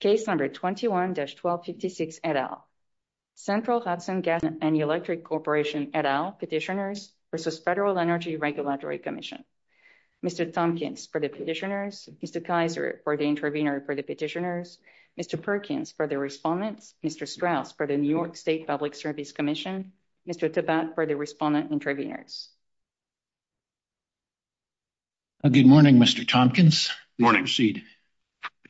Case number 21-1266 et al. Central Hudson Gas & Electric Corporation et al. Petitioners v. Federal Energy Regulatory Commission. Mr. Tompkins for the Petitioners, Mr. Kaiser for the Intervenors for the Petitioners, Mr. Perkins for the Respondents, Mr. Strauss for the New York State Public Service Commission, Mr. Tabat for the Respondent Intervenors. Good morning, Mr. Tompkins. Good morning.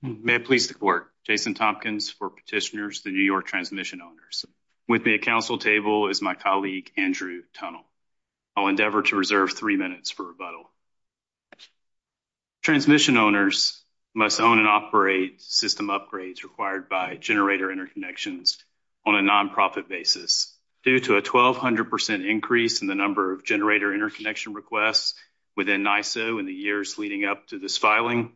May I please report. Jason Tompkins for Petitioners, the New York Transmission Owners. With me at council table is my colleague, Andrew Tunnel. I'll endeavor to reserve 3 minutes for rebuttal. Transmission owners must own and operate system upgrades required by generator interconnections on a non-profit basis. Due to a 1,200% increase in the number of generator interconnection requests within NISO in the years leading up to this filing,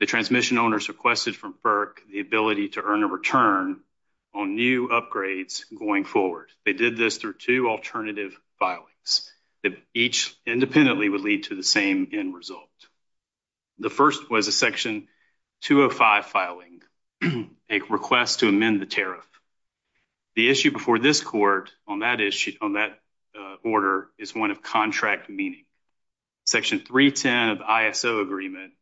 the transmission owners requested from FERC the ability to earn a return on new upgrades going forward. They did this through two alternative filings that each independently would lead to the same end result. The first was a section 205 filing, a request to amend the tariff. The issue before this court on that issue, on that order, is one of contract meaning. Section 310 of ISO agreement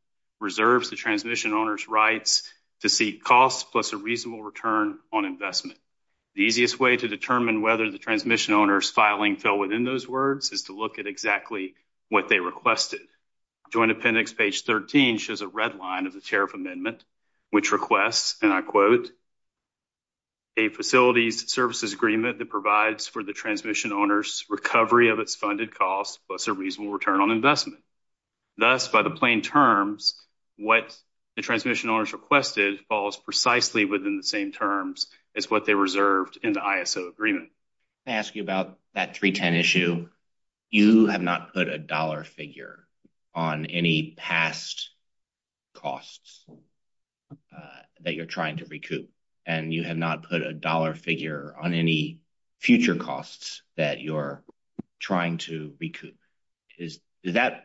reserves the transmission owners' rights to seek costs plus a reasonable return on investment. The easiest way to determine whether the transmission owners' filing fell within those words is to look at exactly what they requested. Joint appendix page 13 shows a red line of the tariff amendment, which requests, and I quote, a facility services agreement that provides for the transmission owners' recovery of its funded costs plus a reasonable return on investment. Thus, by the plain terms, what the transmission owners requested falls precisely within the same terms as what they reserved in the ISO agreement. I'm going to ask you about that 310 issue. You have not put a dollar figure on any past costs that you're trying to recoup, and you have not put a dollar figure on any future costs that you're trying to recoup. Is that,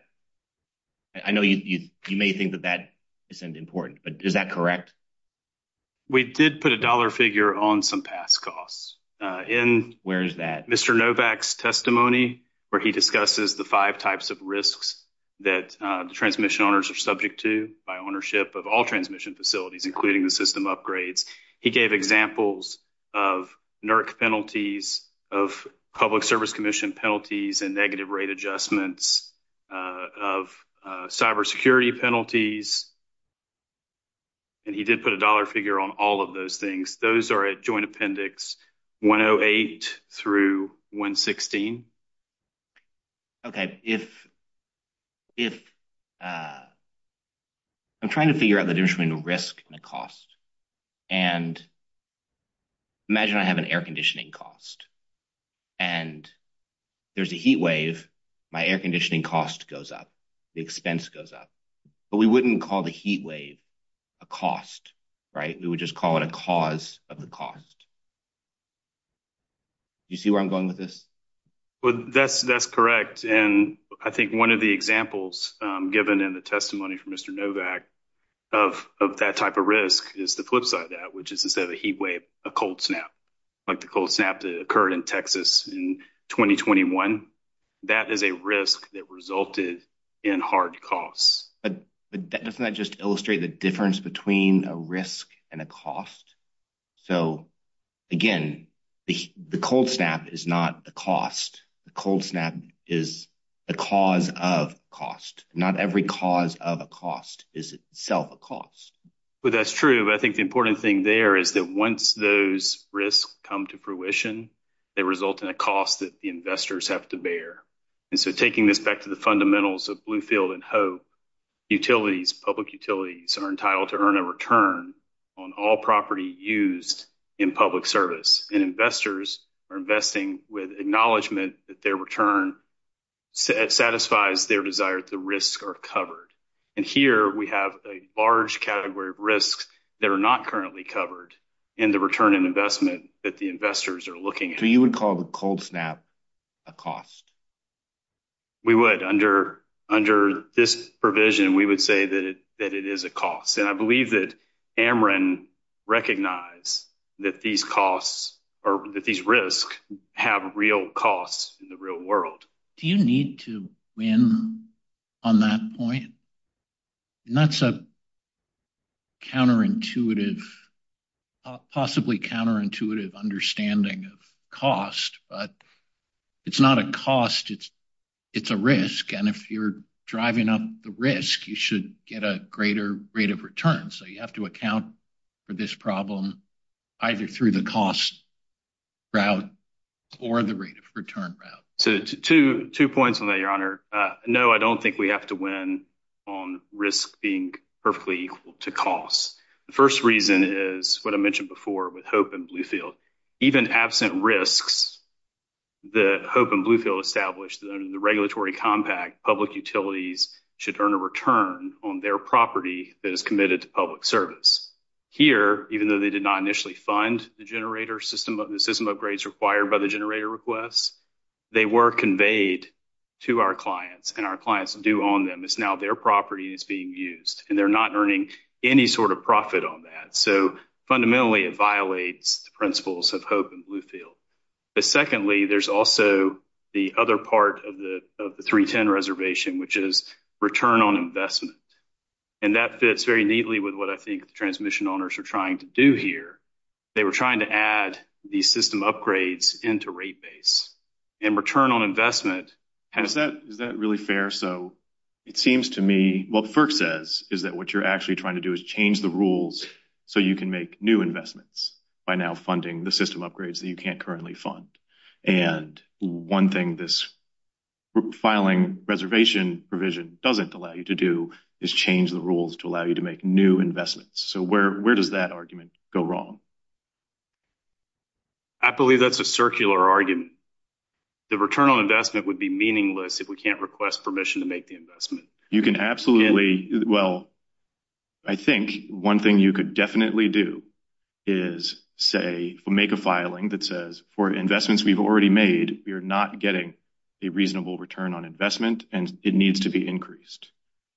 I know you may think that that isn't important, but is that correct? We did put a dollar figure on some past costs. Where is that? In Mr. Novak's testimony, where he discusses the five types of risks that the transmission owners are subject to by ownership of all transmission facilities, including the system upgrades. He gave examples of NERC penalties, of Public Service Commission penalties and negative rate adjustments, of cybersecurity penalties. And he did put a dollar figure on all of those things. Those are at Joint Appendix 108 through 116. Okay, if I'm trying to figure out the additional risk and the cost, and imagine I have an air conditioning cost, and there's a heat wave, my air conditioning cost goes up, the expense goes up. But we wouldn't call the heat wave a cost, right? We would just call it a cause of the cost. Do you see where I'm going with this? That's correct, and I think one of the examples given in the testimony from Mr. Novak of that type of risk is the flip side of that, which is instead of a heat wave, a cold snap. Like the cold snap that occurred in Texas in 2021. That is a risk that resulted in hard costs. But doesn't that just illustrate the difference between a risk and a cost? So, again, the cold snap is not a cost. The cold snap is a cause of cost. Not every cause of a cost is itself a cost. That's true, but I think the important thing there is that once those risks come to fruition, they result in a cost that the investors have to bear. And so taking this back to the fundamentals of Bluefield and Hope, utilities, public utilities, are entitled to earn a return on all property used in public service. And investors are investing with acknowledgement that their return satisfies their desire that the risks are covered. And here we have a large category of risks that are not currently covered in the return on investment that the investors are looking at. So you would call the cold snap a cost? We would. Under this provision, we would say that it is a cost. And I believe that Ameren recognized that these risks have real costs in the real world. Do you need to win on that point? And that's a counterintuitive, possibly counterintuitive understanding of cost. But it's not a cost, it's a risk. And if you're driving up the risk, you should get a greater rate of return. So you have to account for this problem either through the cost route or the rate of return route. So two points on that, Your Honor. No, I don't think we have to win on risk being perfectly equal to cost. The first reason is what I mentioned before with Hope and Bluefield. Even absent risks that Hope and Bluefield established under the regulatory compact, public utilities should earn a return on their property that is committed to public service. Here, even though they did not initially fund the generator system, the system upgrades required by the generator request, they were conveyed to our clients and our clients do own them. It's now their property that's being used and they're not earning any sort of profit on that. So fundamentally, it violates the principles of Hope and Bluefield. But secondly, there's also the other part of the 310 reservation, which is return on investment. And that fits very neatly with what I think the transmission owners are trying to do here. They were trying to add the system upgrades into rate base and return on investment. Is that really fair? So it seems to me what FERC says is that what you're actually trying to do is change the rules so you can make new investments by now funding the system upgrades that you can't currently fund. And one thing this filing reservation provision doesn't allow you to do is change the rules to allow you to make new investments. So where where does that argument go wrong? I believe that's a circular argument. The return on investment would be meaningless if we can't request permission to make the investment. You can absolutely. Well, I think one thing you could definitely do is say, make a filing that says for investments we've already made, you're not getting a reasonable return on investment and it needs to be increased.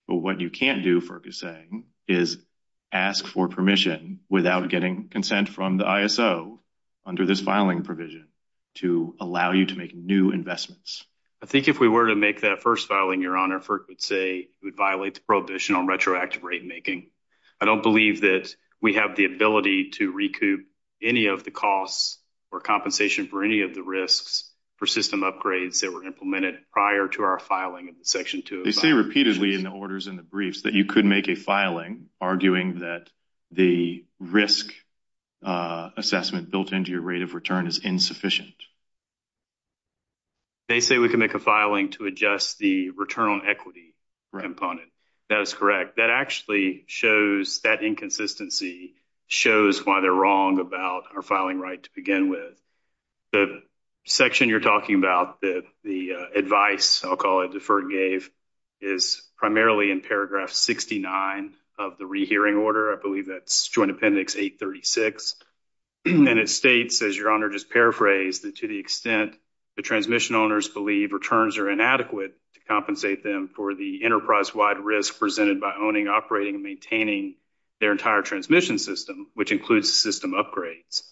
But what you can't do, FERC is saying, is ask for permission without getting consent from the ISO under this filing provision to allow you to make new investments. I think if we were to make that first filing, your honor, FERC would say it would violate the prohibition on retroactive rate making. I don't believe that we have the ability to recoup any of the costs or compensation for any of the risks for system upgrades that were implemented prior to our filing section. They say repeatedly in the orders and the briefs that you could make a filing arguing that the risk assessment built into your rate of return is insufficient. They say we can make a filing to adjust the return on equity ramp on it. That's correct. That actually shows that inconsistency shows why they're wrong about our filing right to begin with. The section you're talking about, the advice, I'll call it, the FERC gave is primarily in paragraph 69 of the rehearing order. I believe that's Joint Appendix 836, and it states, as your honor just paraphrased, that to the extent the transmission owners believe returns are inadequate to compensate them for the enterprise-wide risk presented by owning, operating, and maintaining their entire transmission system, which includes system upgrades,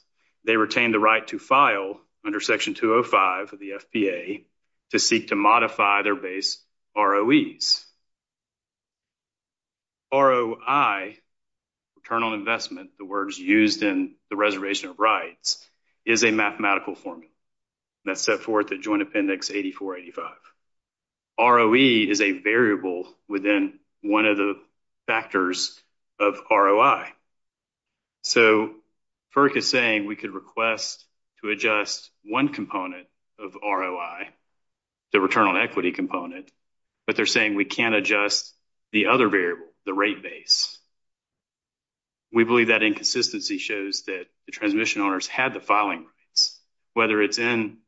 they retain the right to file under Section 205 of the FBA to seek to modify their base ROEs. ROI, return on investment, the words used in the reservation of rights, is a mathematical formula. That's set forth in Joint Appendix 8485. ROE is a variable within one of the factors of ROI. So, FERC is saying we could request to adjust one component of ROI, the return on equity component, but they're saying we can't adjust the other variable, the rate base. We believe that inconsistency shows that the transmission owners had the filing rights. Whether it's in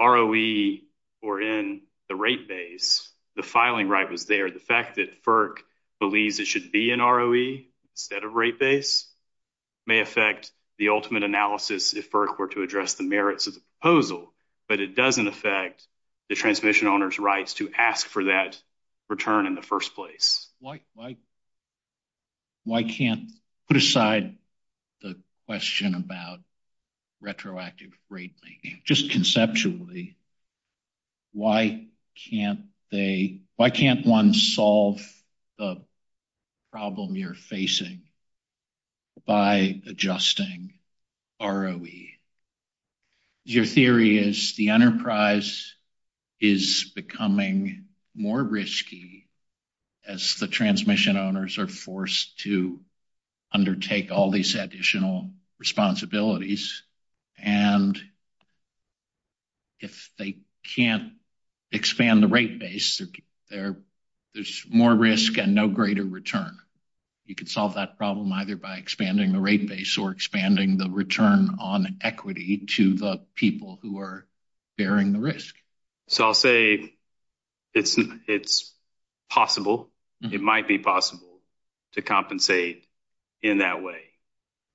ROE or in the rate base, the filing right was there. The fact that FERC believes it should be in ROE instead of rate base may affect the ultimate analysis if FERC were to address the merits of the proposal, but it doesn't affect the transmission owners' rights to ask for that return in the first place. Why can't, put aside the question about retroactive rate, just conceptually, why can't they, why can't one solve the problem you're facing by adjusting ROE? Your theory is the enterprise is becoming more risky as the transmission owners are forced to undertake all these additional responsibilities, and if they can't expand the rate base, there's more risk and no greater return. You could solve that problem either by expanding the rate base or expanding the return on equity to the people who are bearing the risk. So, I'll say it's possible, it might be possible to compensate in that way.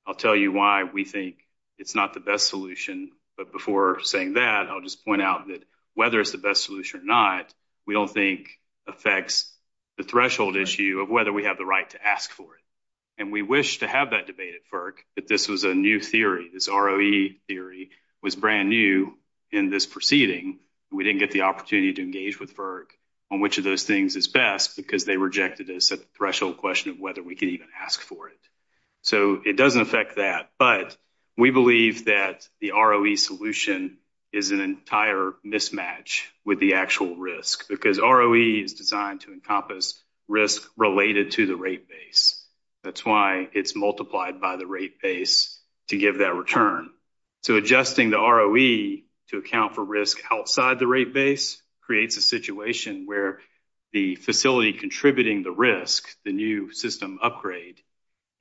I'll tell you why we think it's not the best solution, but before saying that, I'll just point out that whether it's the best solution or not, we don't think affects the threshold issue of whether we have the right to ask for it. And we wish to have that debate at FERC, but this was a new theory. This ROE theory was brand new in this proceeding. We didn't get the opportunity to engage with FERC on which of those things is best, because they rejected us at the threshold question of whether we can even ask for it. So, it doesn't affect that, but we believe that the ROE solution is an entire mismatch with the actual risk, because ROE is designed to encompass risk related to the rate base. That's why it's multiplied by the rate base to give that return. So, adjusting the ROE to account for risk outside the rate base creates a situation where the facility contributing the risk, the new system upgrade,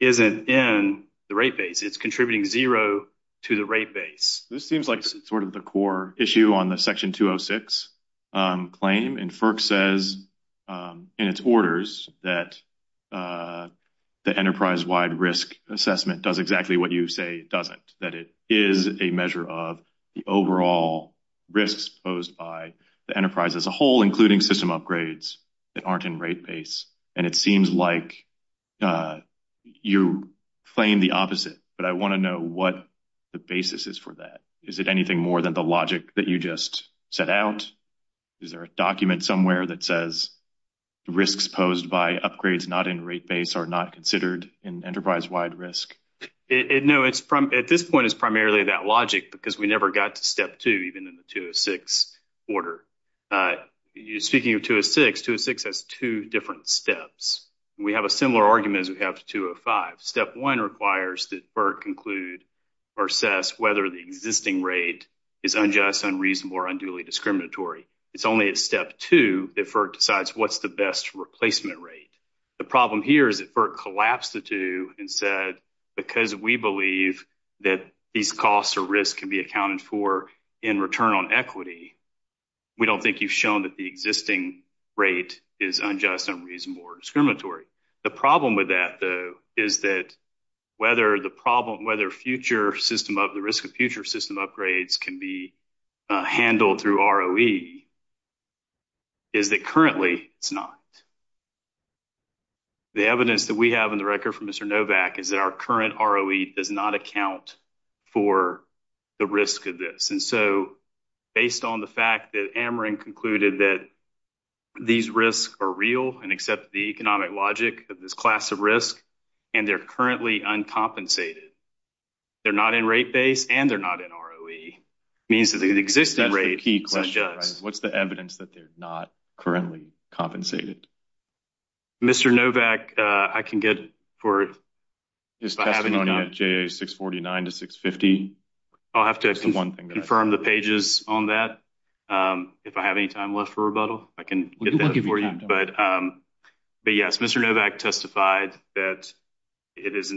isn't in the rate base. It's contributing zero to the rate base. This seems like sort of the core issue on the Section 206 claim, and FERC says in its orders that the enterprise-wide risk assessment does exactly what you say it doesn't, that it is a measure of the overall risk posed by the enterprise as a whole, including system upgrades that aren't in rate base. And it seems like you claim the opposite, but I want to know what the basis is for that. Is it anything more than the logic that you just set out? Is there a document somewhere that says risks posed by upgrades not in rate base are not considered an enterprise-wide risk? No, at this point, it's primarily that logic, because we never got to step two, even in the 206 order. Speaking of 206, 206 has two different steps. We have a similar argument as we have to 205. Step one requires that FERC conclude or assess whether the existing rate is unjust, unreasonable, or unduly discriminatory. It's only at step two that FERC decides what's the best replacement rate. The problem here is that FERC collapsed the two and said, because we believe that these costs or risks can be accounted for in return on equity, we don't think you've shown that the existing rate is unjust, unreasonable, or discriminatory. The problem with that, though, is that whether the problem, whether future system upgrades, the risk of future system upgrades can be handled through ROE is that currently it's not. The evidence that we have in the record from Mr. Novak is that our current ROE does not account for the risk of this. Based on the fact that Ameren concluded that these risks are real and accept the economic logic of this class of risk, and they're currently uncompensated, they're not in rate base and they're not in ROE, means that the existing rate is unjust. That's the key question. What's the evidence that they're not currently compensated? Mr. Novak, I can get for it. Is testimony at 649 to 650? I'll have to confirm the pages on that. If I have any time left for rebuttal, I can get that for you. Yes, Mr. Novak testified that these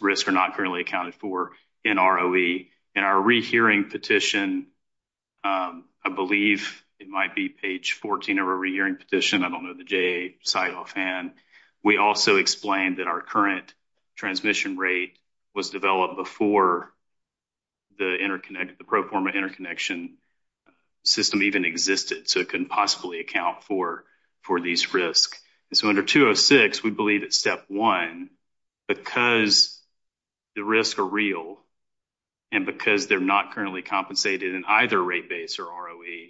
risks are not currently accounted for in ROE. In our rehearing petition, I believe it might be page 14 of our rehearing petition. I don't know the JA site offhand. We also explained that our current transmission rate was developed before the pro forma interconnection system even existed. It couldn't possibly account for these risks. Under 206, we believe it's step one. Because the risks are real and because they're not currently compensated in either rate base or ROE,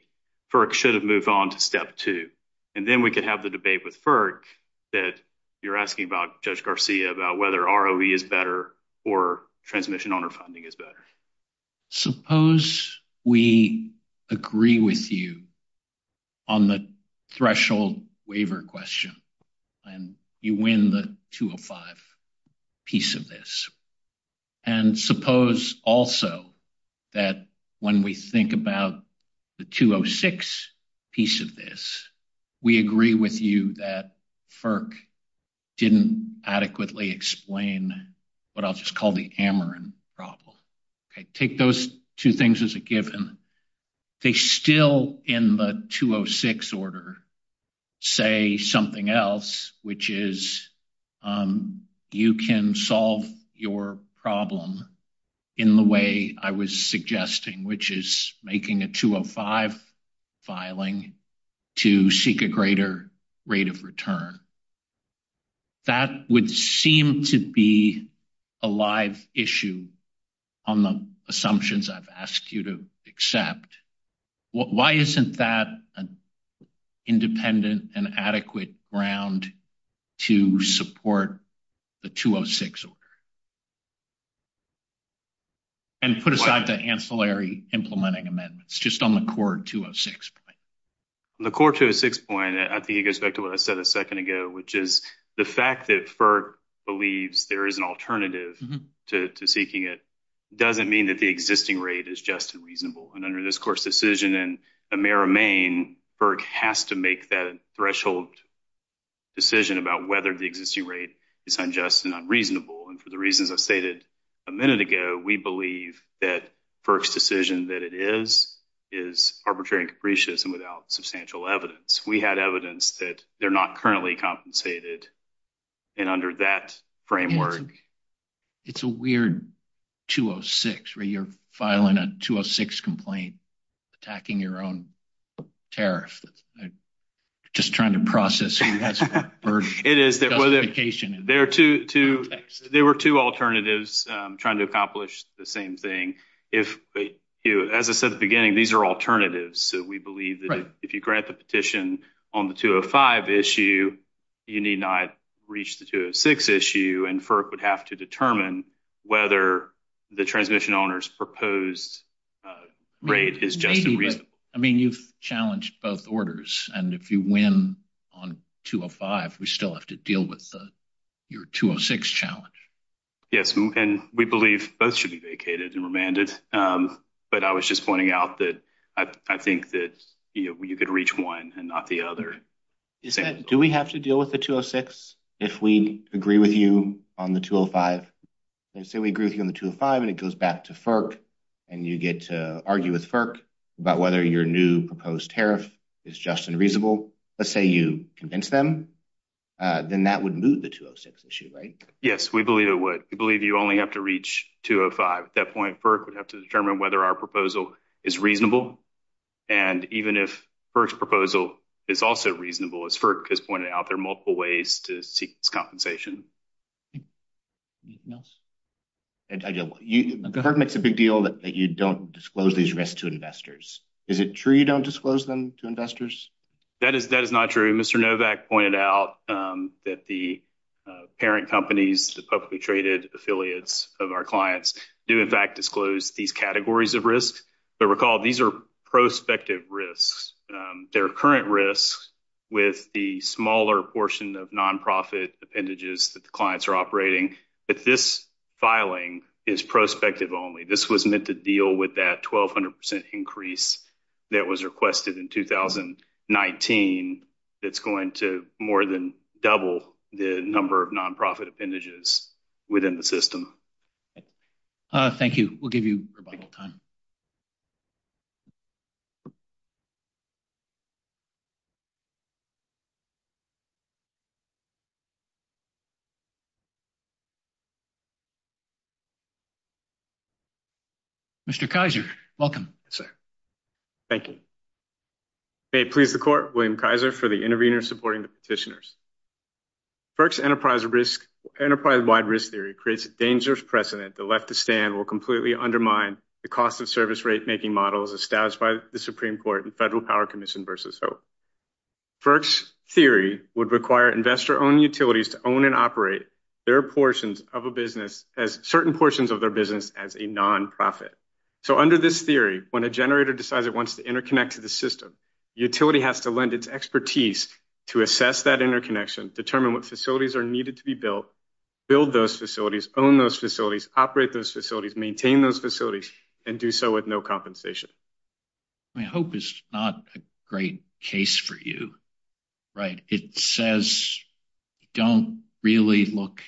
FERC should have moved on to step two. Then we can have the debate with FERC that you're asking about, Judge Garcia, about whether ROE is better or transmission underfunding is better. Suppose we agree with you on the threshold waiver question and you win the 205 piece of this. And suppose also that when we think about the 206 piece of this, we agree with you that FERC didn't adequately explain what I'll just call the Ameren problem. Take those two things as a given. They still, in the 206 order, say something else, which is you can solve your problem in the way I was suggesting, which is making a 205 filing to seek a greater rate of return. That would seem to be a live issue on the assumptions I've asked you to accept. Why isn't that an independent and adequate ground to support the 206 order? And put aside the ancillary implementing amendments, just on the core 206 point. The core 206 point, I think it goes back to what I said a second ago, which is the fact that FERC believes there is an alternative to seeking it doesn't mean that the existing rate is just and reasonable. And under this court's decision in Amera, Maine, FERC has to make that threshold decision about whether the existing rate is unjust and unreasonable. And for the reasons I've stated a minute ago, we believe that FERC's decision that it is, is arbitrary and capricious and without substantial evidence. We had evidence that they're not currently compensated. And under that framework. It's a weird 206 where you're filing a 206 complaint, attacking your own tariff. Just trying to process it. There were two alternatives trying to accomplish the same thing. As I said at the beginning, these are alternatives. So we believe that if you grant the petition on the 205 issue, you need not reach the 206 issue. And FERC would have to determine whether the transmission owner's proposed rate is just and reasonable. I mean, you've challenged both orders. And if you win on 205, we still have to deal with your 206 challenge. Yes. And we believe those should be vacated and remanded. But I was just pointing out that I think that you could reach one and not the other. Do we have to deal with the 206 if we agree with you on the 205? And so we agree with you on the 205 and it goes back to FERC. And you get to argue with FERC about whether your new proposed tariff is just and reasonable. Let's say you convince them, then that would move the 206 issue, right? Yes, we believe it would. We believe you only have to reach 205. At that point, FERC would have to determine whether our proposal is reasonable. And even if FERC's proposal is also reasonable, as FERC has pointed out, there are multiple ways to seek compensation. Anything else? The government makes a big deal that you don't disclose these risks to investors. Is it true you don't disclose them to investors? That is not true. Mr. Novak pointed out that the parent companies, the publicly traded affiliates of our clients, do in fact disclose these categories of risk. But recall, these are prospective risks. They're current risks with the smaller portion of nonprofit appendages that the clients are operating. But this filing is prospective only. This was meant to deal with that 1,200 percent increase that was requested in 2019. It's going to more than double the number of nonprofit appendages within the system. Thank you. We'll give you a moment. Mr. Kaiser, welcome. Thank you. May it please the court, William Kaiser for the intervener supporting the petitioners. FERC's enterprise-wide risk theory creates a dangerous precedent. The left to stand will completely undermine the cost-of-service rate-making models established by the Supreme Court and Federal Power Commission versus HOPE. FERC's theory would require investor-owned utilities to own and operate certain portions of their business as a nonprofit. So under this theory, when a generator decides it wants to interconnect to the system, the utility has to lend its expertise to assess that interconnection, determine what facilities are needed to be built, build those facilities, own those facilities, operate those facilities, maintain those facilities, and do so with no compensation. HOPE is not a great case for you. It says don't really look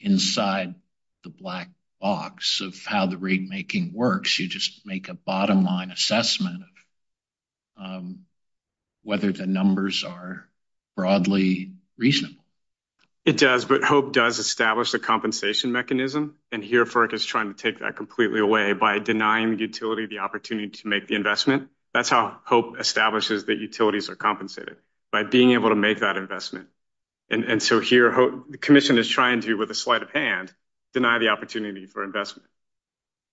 inside the black box of how the rate-making works. You just make a bottom-line assessment of whether the numbers are broadly reasonable. It does, but HOPE does establish a compensation mechanism, and here FERC is trying to take that completely away by denying the utility the opportunity to make the investment. That's how HOPE establishes that utilities are compensated, by being able to make that investment. And so here, the commission is trying to, with a slight of hand, deny the opportunity for investment.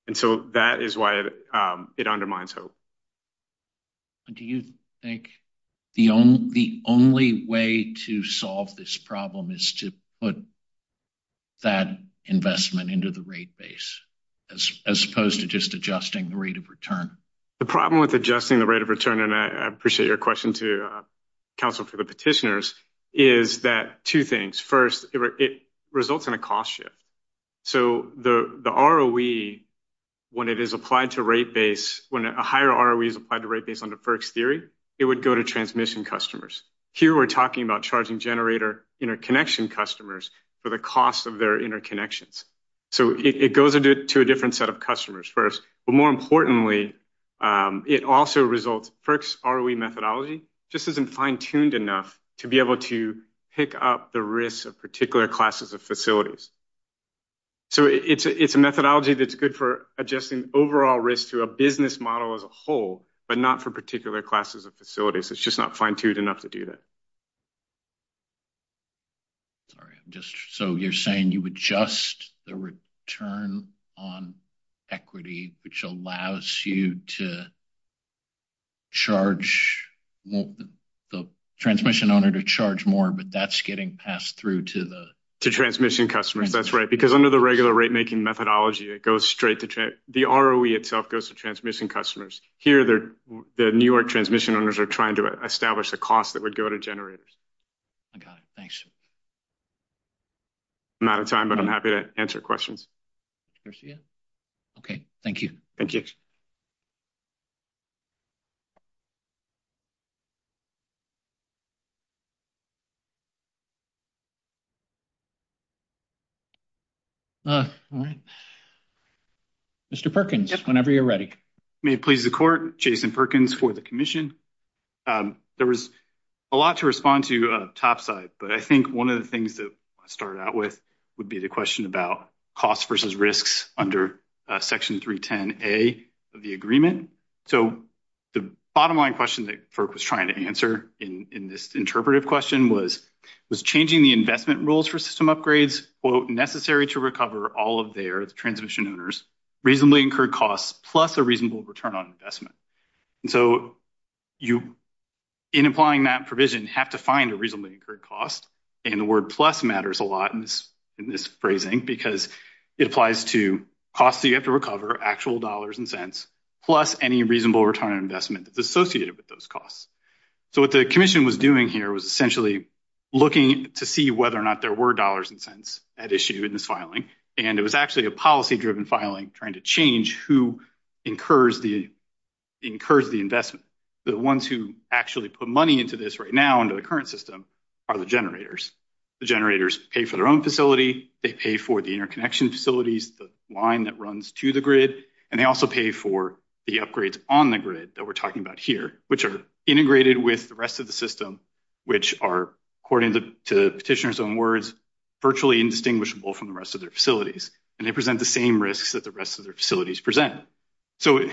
And so that is why it undermines HOPE. Do you think the only way to solve this problem is to put that investment into the rate base as opposed to just adjusting the rate of return? The problem with adjusting the rate of return, and I appreciate your question to counsel for the petitioners, is that two things. First, it results in a cost shift. So the ROE, when it is applied to rate base, when a higher ROE is applied to rate base under FERC's theory, it would go to transmission customers. Here we're talking about charging generator interconnection customers for the cost of their interconnections. So it goes to a different set of customers first. But more importantly, it also results, FERC's ROE methodology just isn't fine-tuned enough to be able to pick up the risk of particular classes of facilities. So it's a methodology that's good for adjusting overall risk to a business model as a whole, but not for particular classes of facilities. It's just not fine-tuned enough to do that. Sorry. So you're saying you adjust the return on equity, which allows you to charge the transmission owner to charge more, but that's getting passed through to the – To transmission customers. That's right. Because under the regular rate-making methodology, it goes straight to – the ROE itself goes to transmission customers. Here, the New York transmission owners are trying to establish the cost that would go to generators. Okay. Thanks. I'm out of time, but I'm happy to answer questions. Okay. Thank you. Thank you. All right. Mr. Perkins, whenever you're ready. May it please the court, Jason Perkins for the commission. There was a lot to respond to topside, but I think one of the things that I started out with would be the question about cost versus risks under Section 310A of the agreement. So the bottom-line question that FERC was trying to answer in this interpretive question was, was changing the investment rules for system upgrades, quote, necessary to recover all of their transmission owners reasonably incurred costs plus a reasonable return on investment. So in applying that provision, you have to find a reasonably incurred cost, and the word plus matters a lot in this phrasing because it applies to costs that you have to recover, actual dollars and cents, plus any reasonable return on investment that's associated with those costs. So what the commission was doing here was essentially looking to see whether or not there were dollars and cents at issue in this filing, and it was actually a policy-driven filing trying to change who incurs the investment. The ones who actually put money into this right now under the current system are the generators. The generators pay for their own facility, they pay for the interconnection facilities, the line that runs to the grid, and they also pay for the upgrades on the grid that we're talking about here, which are integrated with the rest of the system, which are, according to the petitioner's own words, virtually indistinguishable from the rest of their facilities, and they present the same risks that the rest of their facilities present. So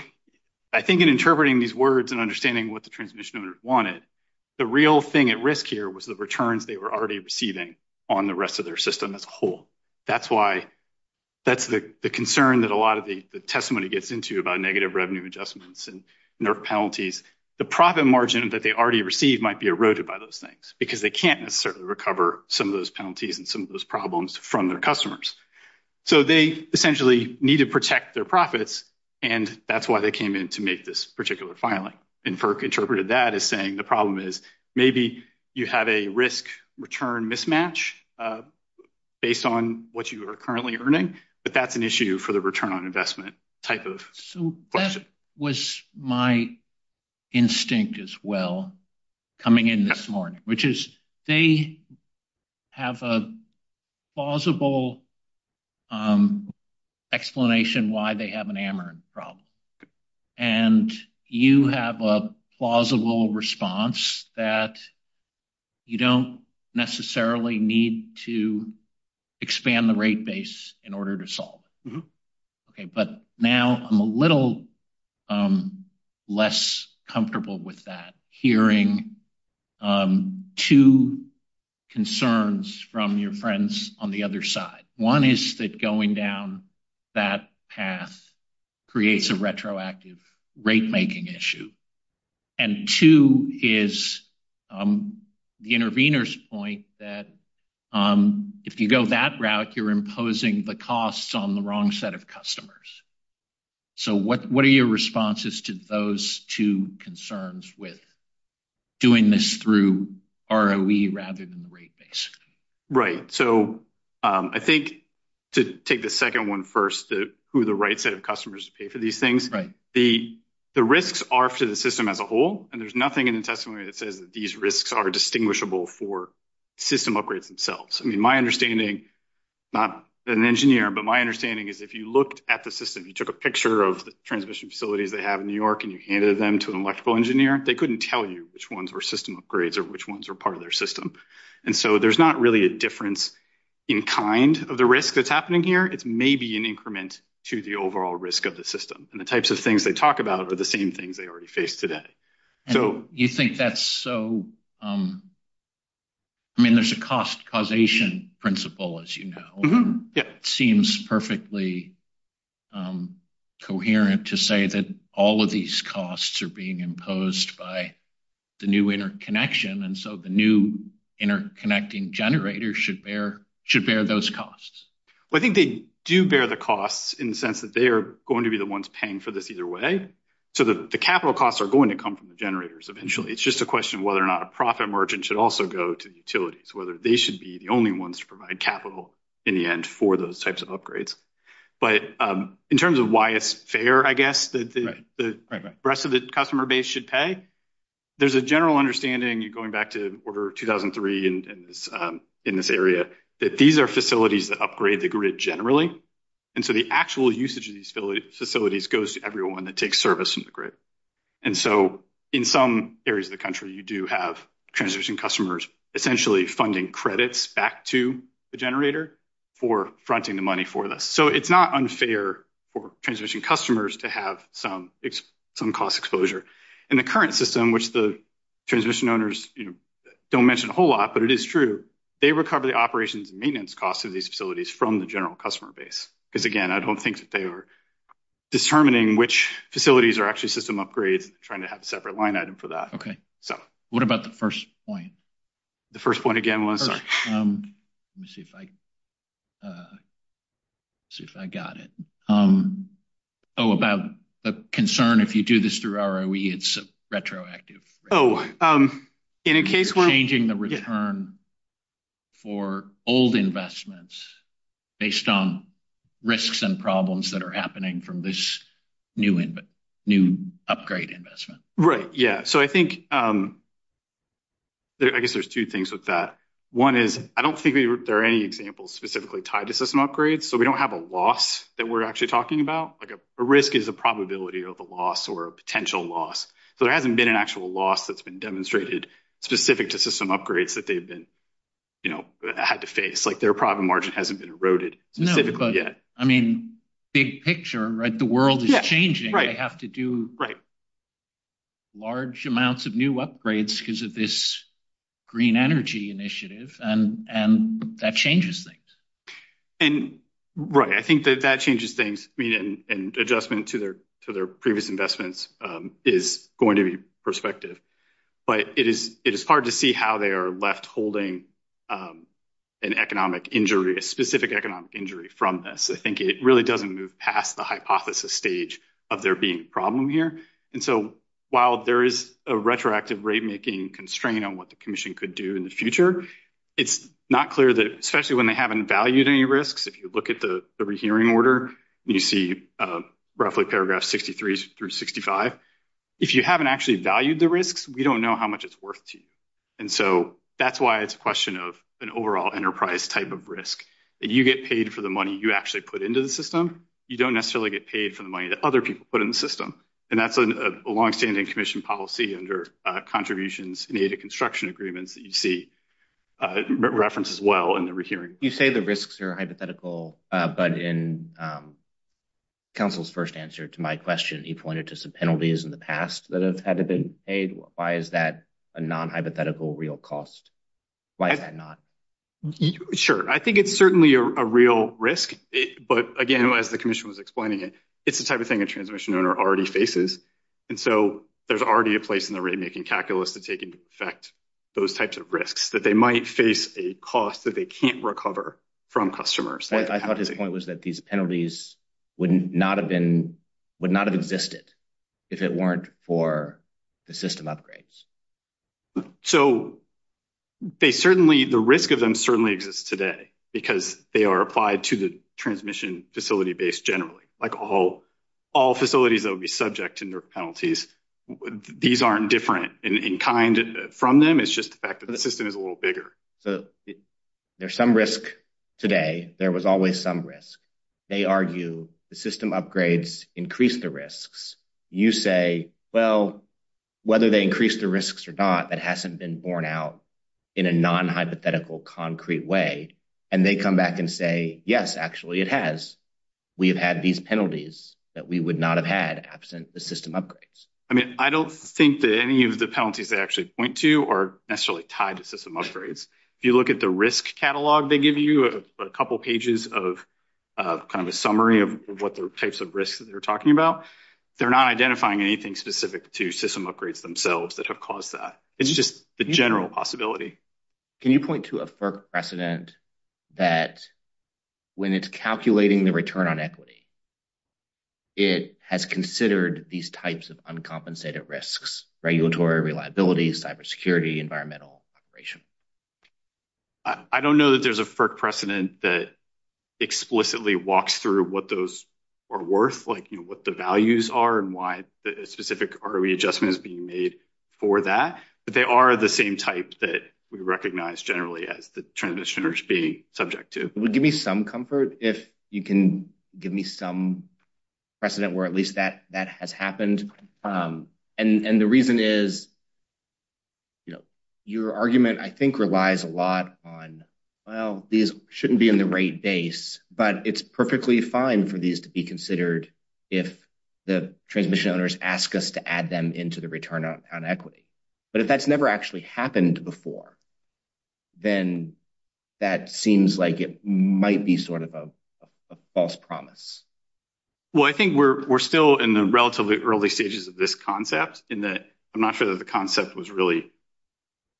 I think in interpreting these words and understanding what the transmission owners wanted, the real thing at risk here was the returns they were already receiving on the rest of their system as a whole. That's the concern that a lot of the testimony gets into about negative revenue adjustments and penalties. The profit margin that they already receive might be eroded by those things because they can't necessarily recover some of those penalties and some of those problems from their customers. So they essentially need to protect their profits, and that's why they came in to make this particular filing. And FERC interpreted that as saying the problem is maybe you have a risk-return mismatch based on what you are currently earning, but that's an issue for the return on investment type of question. That was my instinct as well coming in this morning, which is they have a plausible explanation why they have an amateur problem, and you have a plausible response that you don't necessarily need to expand the rate base in order to solve. But now I'm a little less comfortable with that, hearing two concerns from your friends on the other side. One is that going down that path creates a retroactive rate-making issue, and two is the intervener's point that if you go that route, you're imposing the costs on the wrong set of customers. So what are your responses to those two concerns with doing this through ROE rather than rate-based? Right. So I think to take the second one first, who are the right set of customers to pay for these things, the risks are to the system as a whole, and there's nothing in the testimony that says that these risks are distinguishable for system upgrades themselves. I mean, my understanding, not as an engineer, but my understanding is if you looked at the system, you took a picture of the transmission facilities they have in New York and you handed them to an electrical engineer, they couldn't tell you which ones were system upgrades or which ones were part of their system. And so there's not really a difference in kind of the risk that's happening here. It's maybe an increment to the overall risk of the system, and the types of things they talk about are the same things they already face today. You think that's so – I mean, there's a cost causation principle, as you know. It seems perfectly coherent to say that all of these costs are being imposed by the new interconnection, and so the new interconnecting generator should bear those costs. Well, I think they do bear the costs in the sense that they are going to be the ones paying for this either way. So the capital costs are going to come from the generators eventually. It's just a question of whether or not a profit margin should also go to utilities, whether they should be the only ones to provide capital in the end for those types of upgrades. But in terms of why it's fair, I guess, that the rest of the customer base should pay, there's a general understanding, going back to Order 2003 in this area, that these are facilities that upgrade the grid generally, and so the actual usage of these facilities goes to everyone that takes service from the grid. And so in some areas of the country, you do have transmission customers essentially funding credits back to the generator for fronting the money for this. So it's not unfair for transmission customers to have some cost exposure. In the current system, which the transmission owners don't mention a whole lot, but it is true, they recover the operations and maintenance costs of these facilities from the general customer base. Because again, I don't think that they were determining which facilities are actually system upgrade, trying to have a separate line item for that. Okay. What about the first point? The first point again was? Let me see if I got it. Oh, about the concern if you do this through ROE, it's retroactive. Oh, in a case where- Changing the return for old investments based on risks and problems that are happening from this new upgrade investment. Right, yeah. So I think, I guess there's two things with that. One is, I don't think there are any examples specifically tied to system upgrades, so we don't have a loss that we're actually talking about. Like, a risk is a probability of a loss or a potential loss. So there hasn't been an actual loss that's been demonstrated specific to system upgrades that they've been, you know, had to face. Like, their profit margin hasn't been eroded. No, but I mean, big picture, right? The world is changing. They have to do large amounts of new upgrades because of this green energy initiative and that changes things. Right, I think that that changes things. I mean, an adjustment to their previous investments is going to be perspective. But it is hard to see how they are left holding an economic injury, a specific economic injury from this. I think it really doesn't move past the hypothesis stage of there being a problem here. And so, while there is a retroactive rate making constraint on what the commission could do in the future, it's not clear that, especially when they haven't valued any risks, if you look at the rehearing order, you see roughly paragraph 63 through 65. But if you haven't actually valued the risks, we don't know how much it's worth to you. And so, that's why it's a question of an overall enterprise type of risk. You get paid for the money you actually put into the system. You don't necessarily get paid for the money that other people put in the system. And that's a longstanding commission policy and their contributions in the construction agreements that you see referenced as well in the rehearing. You say the risks are hypothetical, but in Council's first answer to my question, he pointed to some penalties in the past that have had to be paid. Why is that a non-hypothetical real cost? Why is that not? Sure. I think it's certainly a real risk. But again, as the commission was explaining it, it's the type of thing a transmission owner already faces. And so, there's already a place in the rate making calculus to take into effect those types of risks that they might face a cost that they can't recover from customers. I thought his point was that these penalties would not have existed if it weren't for the system upgrades. So, the risk of them certainly exists today because they are applied to the transmission facility base generally. Like, all facilities that would be subject to penalties, these aren't different in kind from them. It's just the fact that the system is a little bigger. So, there's some risk today. There was always some risk. They argue the system upgrades increase the risks. You say, well, whether they increase the risks or not, that hasn't been borne out in a non-hypothetical concrete way. And they come back and say, yes, actually it has. We have had these penalties that we would not have had absent the system upgrades. I mean, I don't think that any of the penalties they actually point to are necessarily tied to system upgrades. If you look at the risk catalog they give you, a couple pages of kind of a summary of what the types of risks that they're talking about, they're not identifying anything specific to system upgrades themselves that have caused that. It's just a general possibility. Can you point to a FERC precedent that when it's calculating the return on equity, it has considered these types of uncompensated risks, regulatory, reliability, cybersecurity, environmental, operation? I don't know that there's a FERC precedent that explicitly walks through what those are worth, like, you know, what the values are and why the specific adjustment is being made for that. But they are the same types that we recognize generally as the transitioners being subject to. It would give me some comfort if you can give me some precedent where at least that has happened. And the reason is, you know, your argument I think relies a lot on, well, these shouldn't be in the rate base, but it's perfectly fine for these to be considered if the transmission owners ask us to add them into the return on equity. But if that's never actually happened before, then that seems like it might be sort of a false promise. Well, I think we're still in the relatively early stages of this concept in that I'm not sure that the concept was really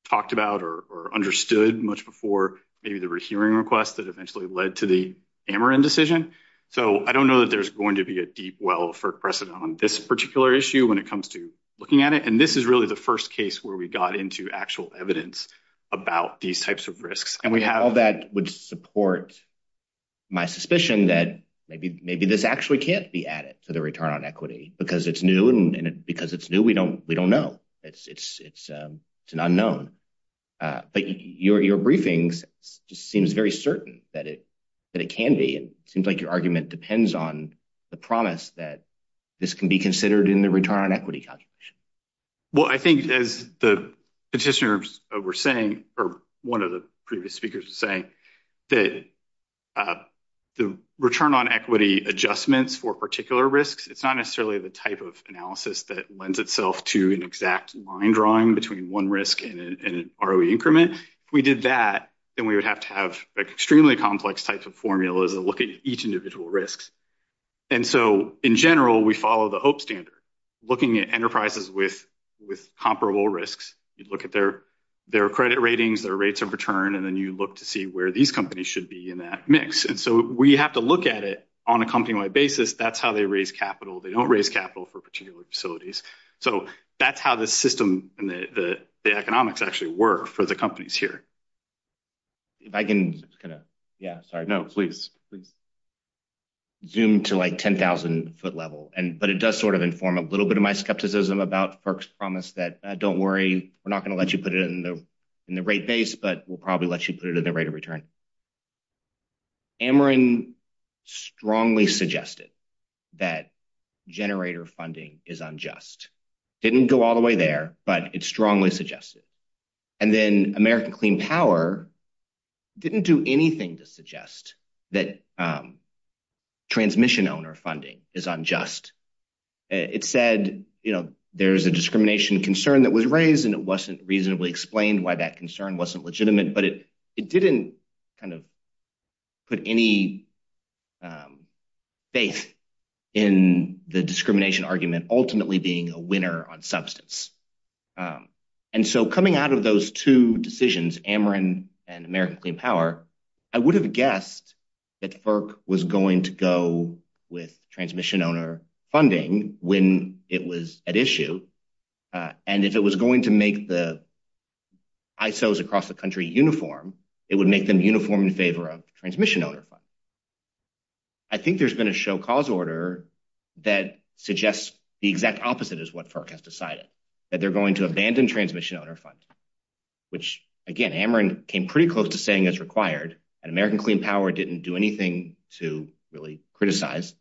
talked about or understood much before maybe the hearing request that eventually led to the Ameren decision. So, I don't know that there's going to be a deep well for precedent on this particular issue when it comes to looking at it. And this is really the first case where we got into actual evidence about these types of risks. And how that would support my suspicion that maybe this actually can't be added to the return on equity because it's new. And because it's new, we don't know. It's an unknown. But your briefings just seems very certain that it can be. It seems like your argument depends on the promise that this can be considered in the return on equity contribution. Well, I think as the petitioners were saying, or one of the previous speakers was saying, that the return on equity adjustments for particular risks, it's not necessarily the type of analysis that lends itself to an exact line drawing between one risk and an ROE increment. If we did that, then we would have to have extremely complex types of formulas that look at each individual risk. And so, in general, we follow the HOPE standard, looking at enterprises with comparable risks. You look at their credit ratings, their rates of return, and then you look to see where these companies should be in that mix. And so, we have to look at it on a company-wide basis. That's how they raise capital. They don't raise capital for particular facilities. So, that's how the system and the economics actually work for the companies here. If I can zoom to like 10,000 foot level, but it does sort of inform a little bit of my skepticism about FERC's promise that, don't worry, we're not going to let you put it in the rate base, but we'll probably let you put it in the rate of return. Amarin strongly suggested that generator funding is unjust. Didn't go all the way there, but it strongly suggested. And then American Clean Power didn't do anything to suggest that transmission owner funding is unjust. It said there's a discrimination concern that was raised, and it wasn't reasonably explained why that concern wasn't legitimate, but it didn't kind of put any faith in the discrimination argument ultimately being a winner on substance. And so, coming out of those two decisions, Amarin and American Clean Power, I would have guessed that FERC was going to go with transmission owner funding when it was at issue. And if it was going to make the ISOs across the country uniform, it would make them uniform in favor of transmission owner funding. I think there's been a show cause order that suggests the exact opposite is what FERC has decided, that they're going to abandon transmission owner funding, which, again, Amarin came pretty close to saying is required, and American Clean Power didn't do anything to really criticize.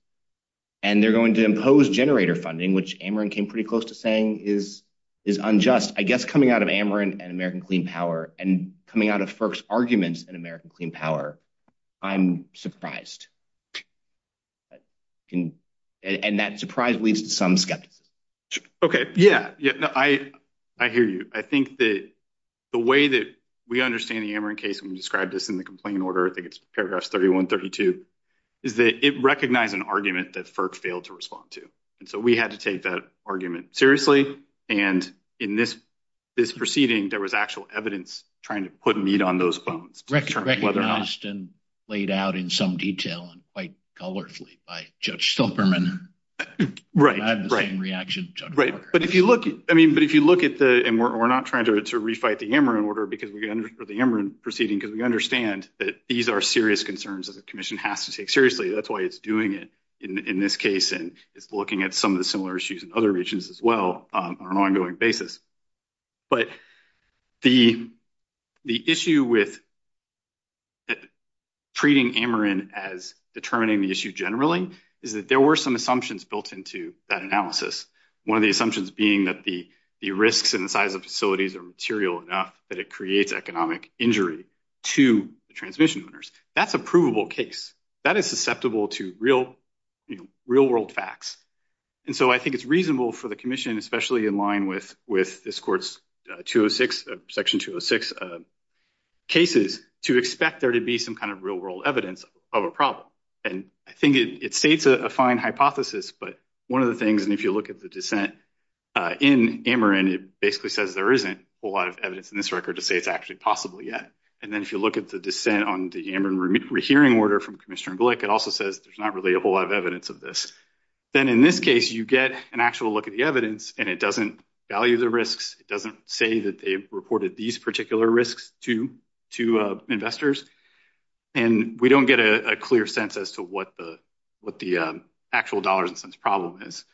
And they're going to impose generator funding, which Amarin came pretty close to saying is unjust. I guess coming out of Amarin and American Clean Power and coming out of FERC's arguments in American Clean Power, I'm surprised. And that surprise leaves some skeptics. Okay. Yeah, I hear you. I think that the way that we understand the Amarin case, and we described this in the complaint order, I think it's paragraphs 31, 32, is that it recognized an argument that FERC failed to respond to. And so we had to take that argument seriously. And in this proceeding, there was actual evidence trying to put meat on those bones. Recognized and laid out in some detail and quite colorfully by Judge Silberman. Right, right. I have the same reaction as Judge Silberman. Right. But if you look, I mean, but if you look at the, and we're not trying to refight the Amarin order, because we're going to look at the Amarin proceeding, because we understand that these are serious concerns that the commission has to take seriously. That's why it's doing it in this case and looking at some of the similar issues in other regions as well on an ongoing basis. But the issue with treating Amarin as determining the issue generally is that there were some assumptions built into that analysis. One of the assumptions being that the risks and the size of facilities are material enough that it creates economic injury to the transmission owners. That's a provable case. That is susceptible to real world facts. And so I think it's reasonable for the commission, especially in line with this court's section 206 cases, to expect there to be some kind of real world evidence of a problem. And I think it states a fine hypothesis, but one of the things, and if you look at the dissent in Amarin, it basically says there isn't a lot of evidence in this record to say it's actually possible yet. And then if you look at the dissent on the Amarin hearing order from Commissioner Glick, it also says there's not really a whole lot of evidence of this. Then in this case, you get an actual look at the evidence, and it doesn't value the risks. It doesn't say that they've reported these particular risks to investors. And we don't get a clear sense as to what the actual dollars and cents problem is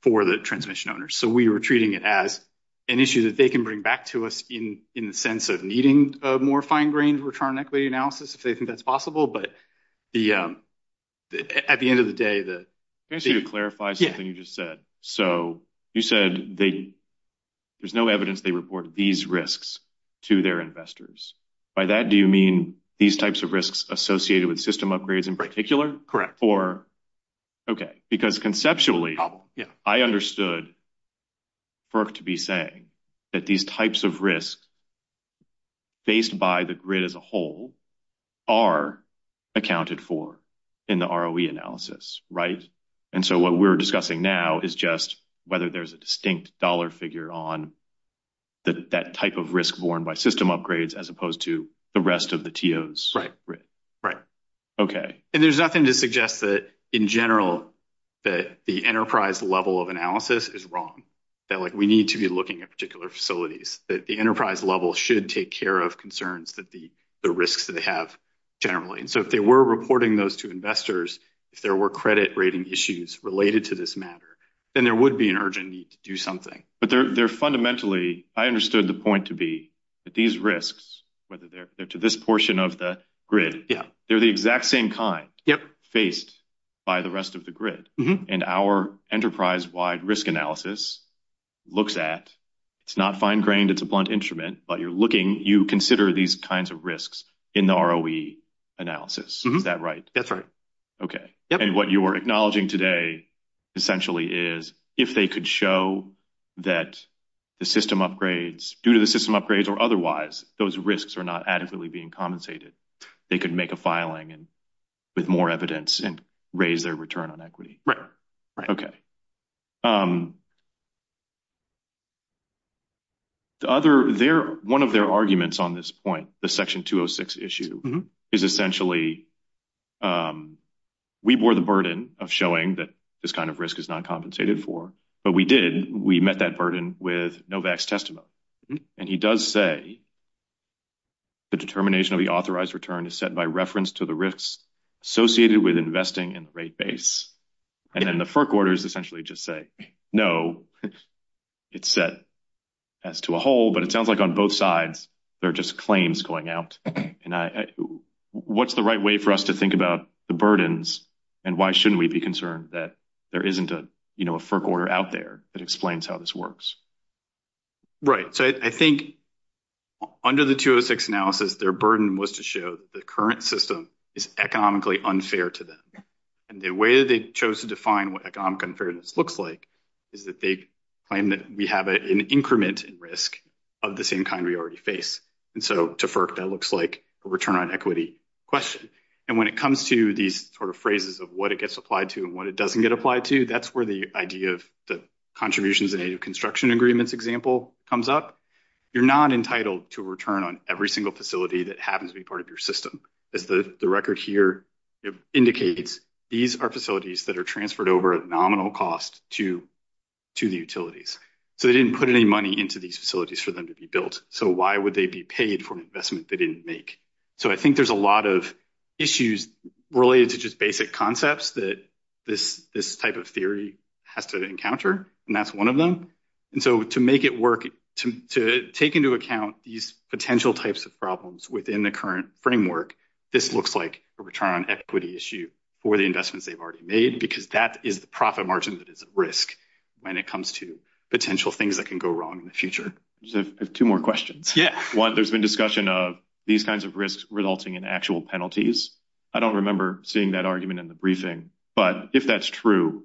for the transmission owners. So we were treating it as an issue that they can bring back to us in the sense of needing more fine-grained return on equity analysis if they think that's possible. But at the end of the day, the- Can I just clarify something you just said? So you said there's no evidence they report these risks to their investors. By that, do you mean these types of risks associated with system upgrades in particular? Correct. Because conceptually, I understood, first to be saying, that these types of risks faced by the grid as a whole are accounted for in the ROE analysis. And so what we're discussing now is just whether there's a distinct dollar figure on that type of risk borne by system upgrades as opposed to the rest of the TOs. Right. Okay. And there's nothing to suggest that, in general, that the enterprise level of analysis is wrong. That, like, we need to be looking at particular facilities. That the enterprise level should take care of concerns that the risks that they have generally. And so if they were reporting those to investors, if there were credit rating issues related to this matter, then there would be an urgent need to do something. But they're fundamentally- I understood the point to be that these risks, whether they're to this portion of the grid- Yeah. They're the exact same kind. Faced by the rest of the grid. And our enterprise-wide risk analysis looks at- it's not fine-grained. It's a blunt instrument. But you're looking- you consider these kinds of risks in the ROE analysis. Is that right? That's right. Okay. Yep. And what you are acknowledging today, essentially, is if they could show that the system upgrades- due to the system upgrades or otherwise, those risks are not adequately being compensated. They could make a filing with more evidence and raise their return on equity. Okay. One of their arguments on this point, the Section 206 issue, is essentially we bore the burden of showing that this kind of risk is not compensated for. But we did. We met that burden with Novak's testimony. And he does say the determination of the authorized return is set by reference to the risks associated with investing in the rate base. And then the FERC orders essentially just say, no, it's set as to a whole. But it sounds like on both sides, there are just claims going out. What's the right way for us to think about the burdens and why shouldn't we be concerned that there isn't a FERC order out there that explains how this works? Right. So I think under the 206 analysis, their burden was to show the current system is economically unfair to them. And the way they chose to define what economic unfairness looks like is that they claim that we have an increment in risk of the same kind we already face. And so to FERC, that looks like a return on equity question. And when it comes to these sort of phrases of what it gets applied to and what it doesn't get applied to, that's where the idea of the contributions in a construction agreements example comes up. You're not entitled to return on every single facility that happens to be part of your system. The record here indicates these are facilities that are transferred over a nominal cost to the utilities. So they didn't put any money into these facilities for them to be built. So why would they be paid for an investment they didn't make? So I think there's a lot of issues related to just basic concepts that this type of theory has to encounter. And that's one of them. And so to make it work, to take into account these potential types of problems within the current framework, this looks like a return on equity issue for the investments they've already made, because that is the profit margin that is at risk when it comes to potential things that can go wrong in the future. I have two more questions. One, there's been discussion of these kinds of risks resulting in actual penalties. I don't remember seeing that argument in the briefing, but if that's true,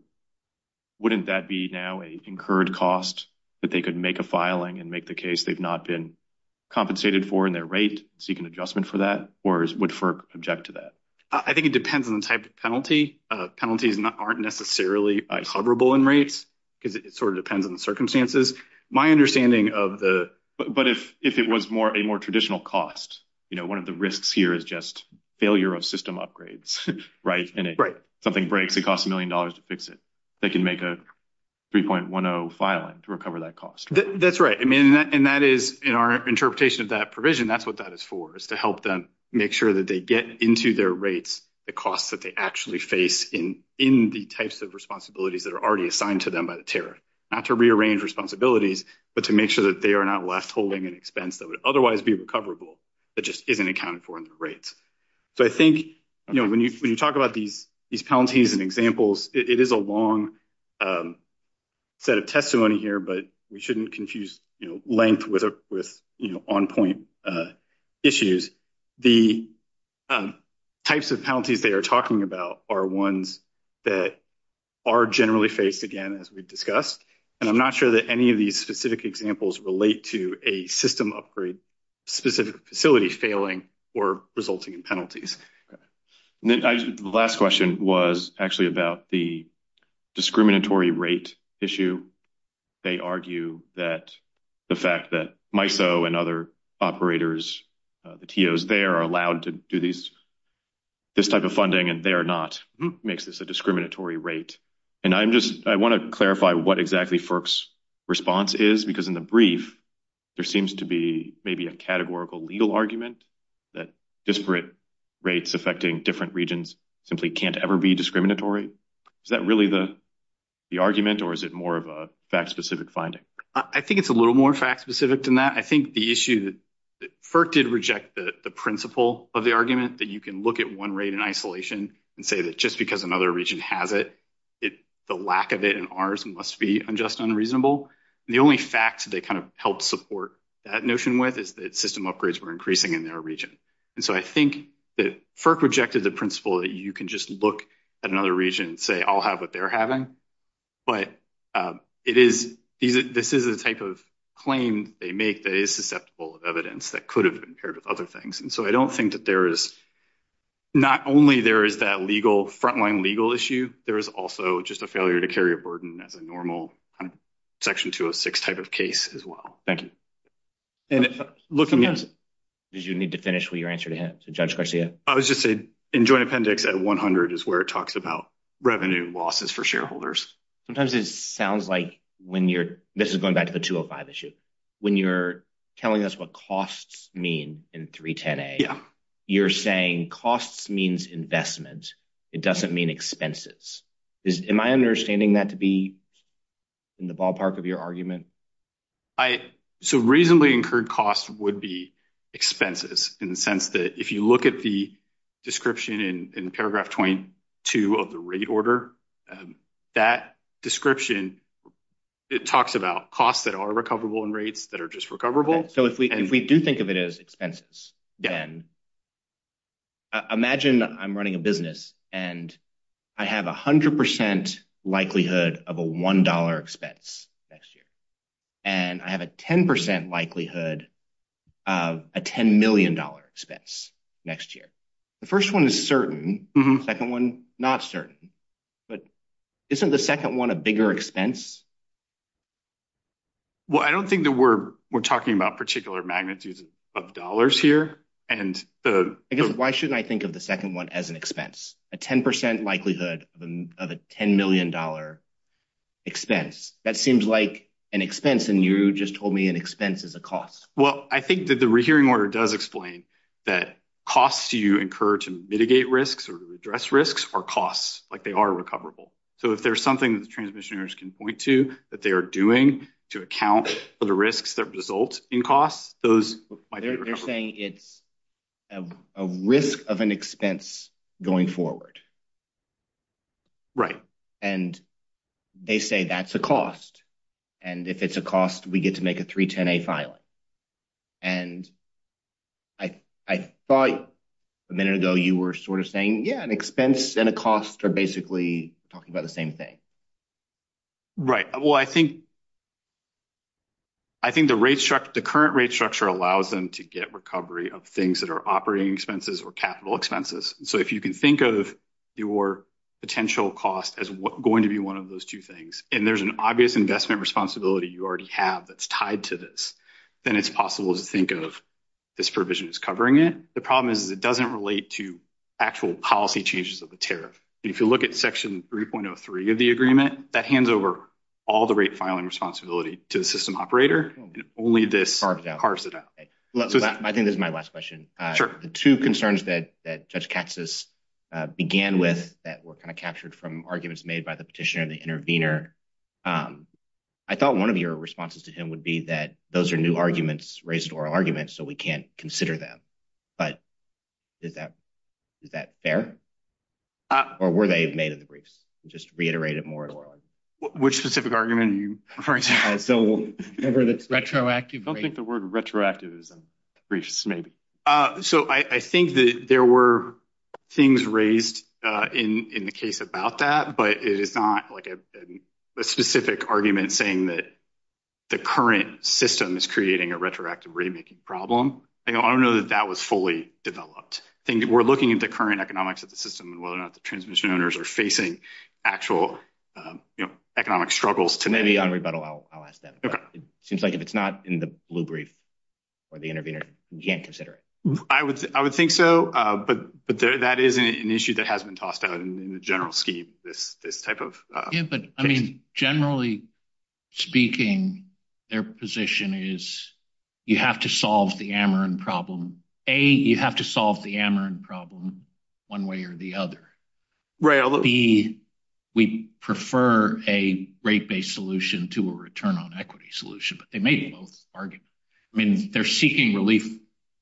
wouldn't that be now an incurred cost that they could make a filing and make the case they've not been compensated for in their rate, seek an adjustment for that, or would FERC object to that? I think it depends on the type of penalty. Penalties aren't necessarily coverable in rates. It sort of depends on the circumstances. My understanding of the. But if it was more a more traditional cost, you know, one of the risks here is just failure of system upgrades. Right. And if something breaks, it costs a million dollars to fix it. They can make a 3.10 filing to recover that cost. That's right. I mean, and that is in our interpretation of that provision. That's what that is for, is to help them make sure that they get into their rates, the costs that they actually face in the types of responsibilities that are already assigned to them by the tariff, not to rearrange responsibilities, but to make sure that they are not left holding an expense that would otherwise be recoverable. That just isn't accounted for in the rates. So I think, you know, when you talk about these penalties and examples, it is a long set of testimony here, but we shouldn't confuse length with on point issues. The types of penalties they are talking about are ones that are generally faced again, as we've discussed. And I'm not sure that any of these specific examples relate to a system upgrade, specific facility failing or resulting in penalties. The last question was actually about the discriminatory rate issue. They argue that the fact that MISO and other operators, the TOs there are allowed to do this type of funding and they are not makes this a discriminatory rate. And I'm just I want to clarify what exactly FERC's response is, because in the brief, there seems to be maybe a categorical legal argument that disparate rates affecting different regions simply can't ever be discriminatory. Is that really the argument or is it more of a fact specific finding? I think it's a little more fact specific than that. I think the issue that FERC did reject the principle of the argument that you can look at one rate in isolation and say that just because another region has it, the lack of it in ours must be unjust and unreasonable. The only fact that they kind of help support that notion with is that system upgrades were increasing in their region. And so I think that FERC rejected the principle that you can just look at another region and say, I'll have what they're having. But it is this is a type of claim they make that is susceptible to evidence that could have been paired with other things. And so I don't think that there is not only there is that legal frontline legal issue. There is also just a failure to carry a burden that the normal Section 206 type of case as well. Thank you. Did you need to finish with your answer to Judge Garcia? I was just saying in joint appendix at 100 is where it talks about revenue losses for shareholders. Sometimes it sounds like when you're going back to the 205 issue, when you're telling us what costs mean in 310A, you're saying costs means investment. It doesn't mean expenses. Am I understanding that to be in the ballpark of your argument? So reasonably incurred costs would be expenses in the sense that if you look at the description in paragraph 22 of the rate order, that description, it talks about costs that are recoverable in rates that are just recoverable. So if we do think of it as expenses, then imagine I'm running a business and I have 100 percent likelihood of a one dollar expense next year. And I have a 10 percent likelihood of a 10 million dollar expense next year. The first one is certain. Second one, not certain. But isn't the second one a bigger expense? Well, I don't think that we're talking about particular magnitudes of dollars here. And I guess why shouldn't I think of the second one as an expense, a 10 percent likelihood of a 10 million dollar expense? That seems like an expense. And you just told me an expense is a cost. Well, I think that the hearing order does explain that costs you incur to mitigate risks or address risks are costs like they are recoverable. So if there's something the transmissioners can point to that they are doing to account for the risks that result in costs, those. They're saying it's a risk of an expense going forward. Right. And they say that's a cost. And if it's a cost, we get to make a 310A filing. And I thought a minute ago you were sort of saying, yeah, an expense and a cost are basically talking about the same thing. Right. Well, I think. I think the rate structure, the current rate structure allows them to get recovery of things that are operating expenses or capital expenses. So if you can think of your potential cost as going to be one of those two things and there's an obvious investment responsibility you already have that's tied to this. Then it's possible to think of this provision as covering it. The problem is, it doesn't relate to actual policy changes of the tariff. If you look at Section 3.03 of the agreement, that hands over all the rate filing responsibility to the system operator. Only this part of that. I think this is my last question. Sure. Two concerns that that just catches began with that were kind of captured from arguments made by the petitioner, the intervener. I thought one of your responses to him would be that those are new arguments raised or arguments, so we can't consider them. But is that fair? Or were they made of the briefs? Just reiterate it more. Which specific argument are you referring to? I don't think the word retroactive is gracious, maybe. So I think that there were things raised in the case about that, but it's not like a specific argument saying that the current system is creating a retroactive rate making problem. I don't know that that was fully developed. We're looking at the current economics of the system and whether or not the transmission owners are facing actual economic struggles. Maybe I'll ask that. It seems like if it's not in the blue brief or the intervener, you can't consider it. I would. I would think so. But that is an issue that has been tossed out in the general scheme. This type of I mean, generally speaking, their position is you have to solve the Ameren problem. A, you have to solve the Ameren problem one way or the other. B, we prefer a rate based solution to a return on equity solution, but they may argue. I mean, they're seeking relief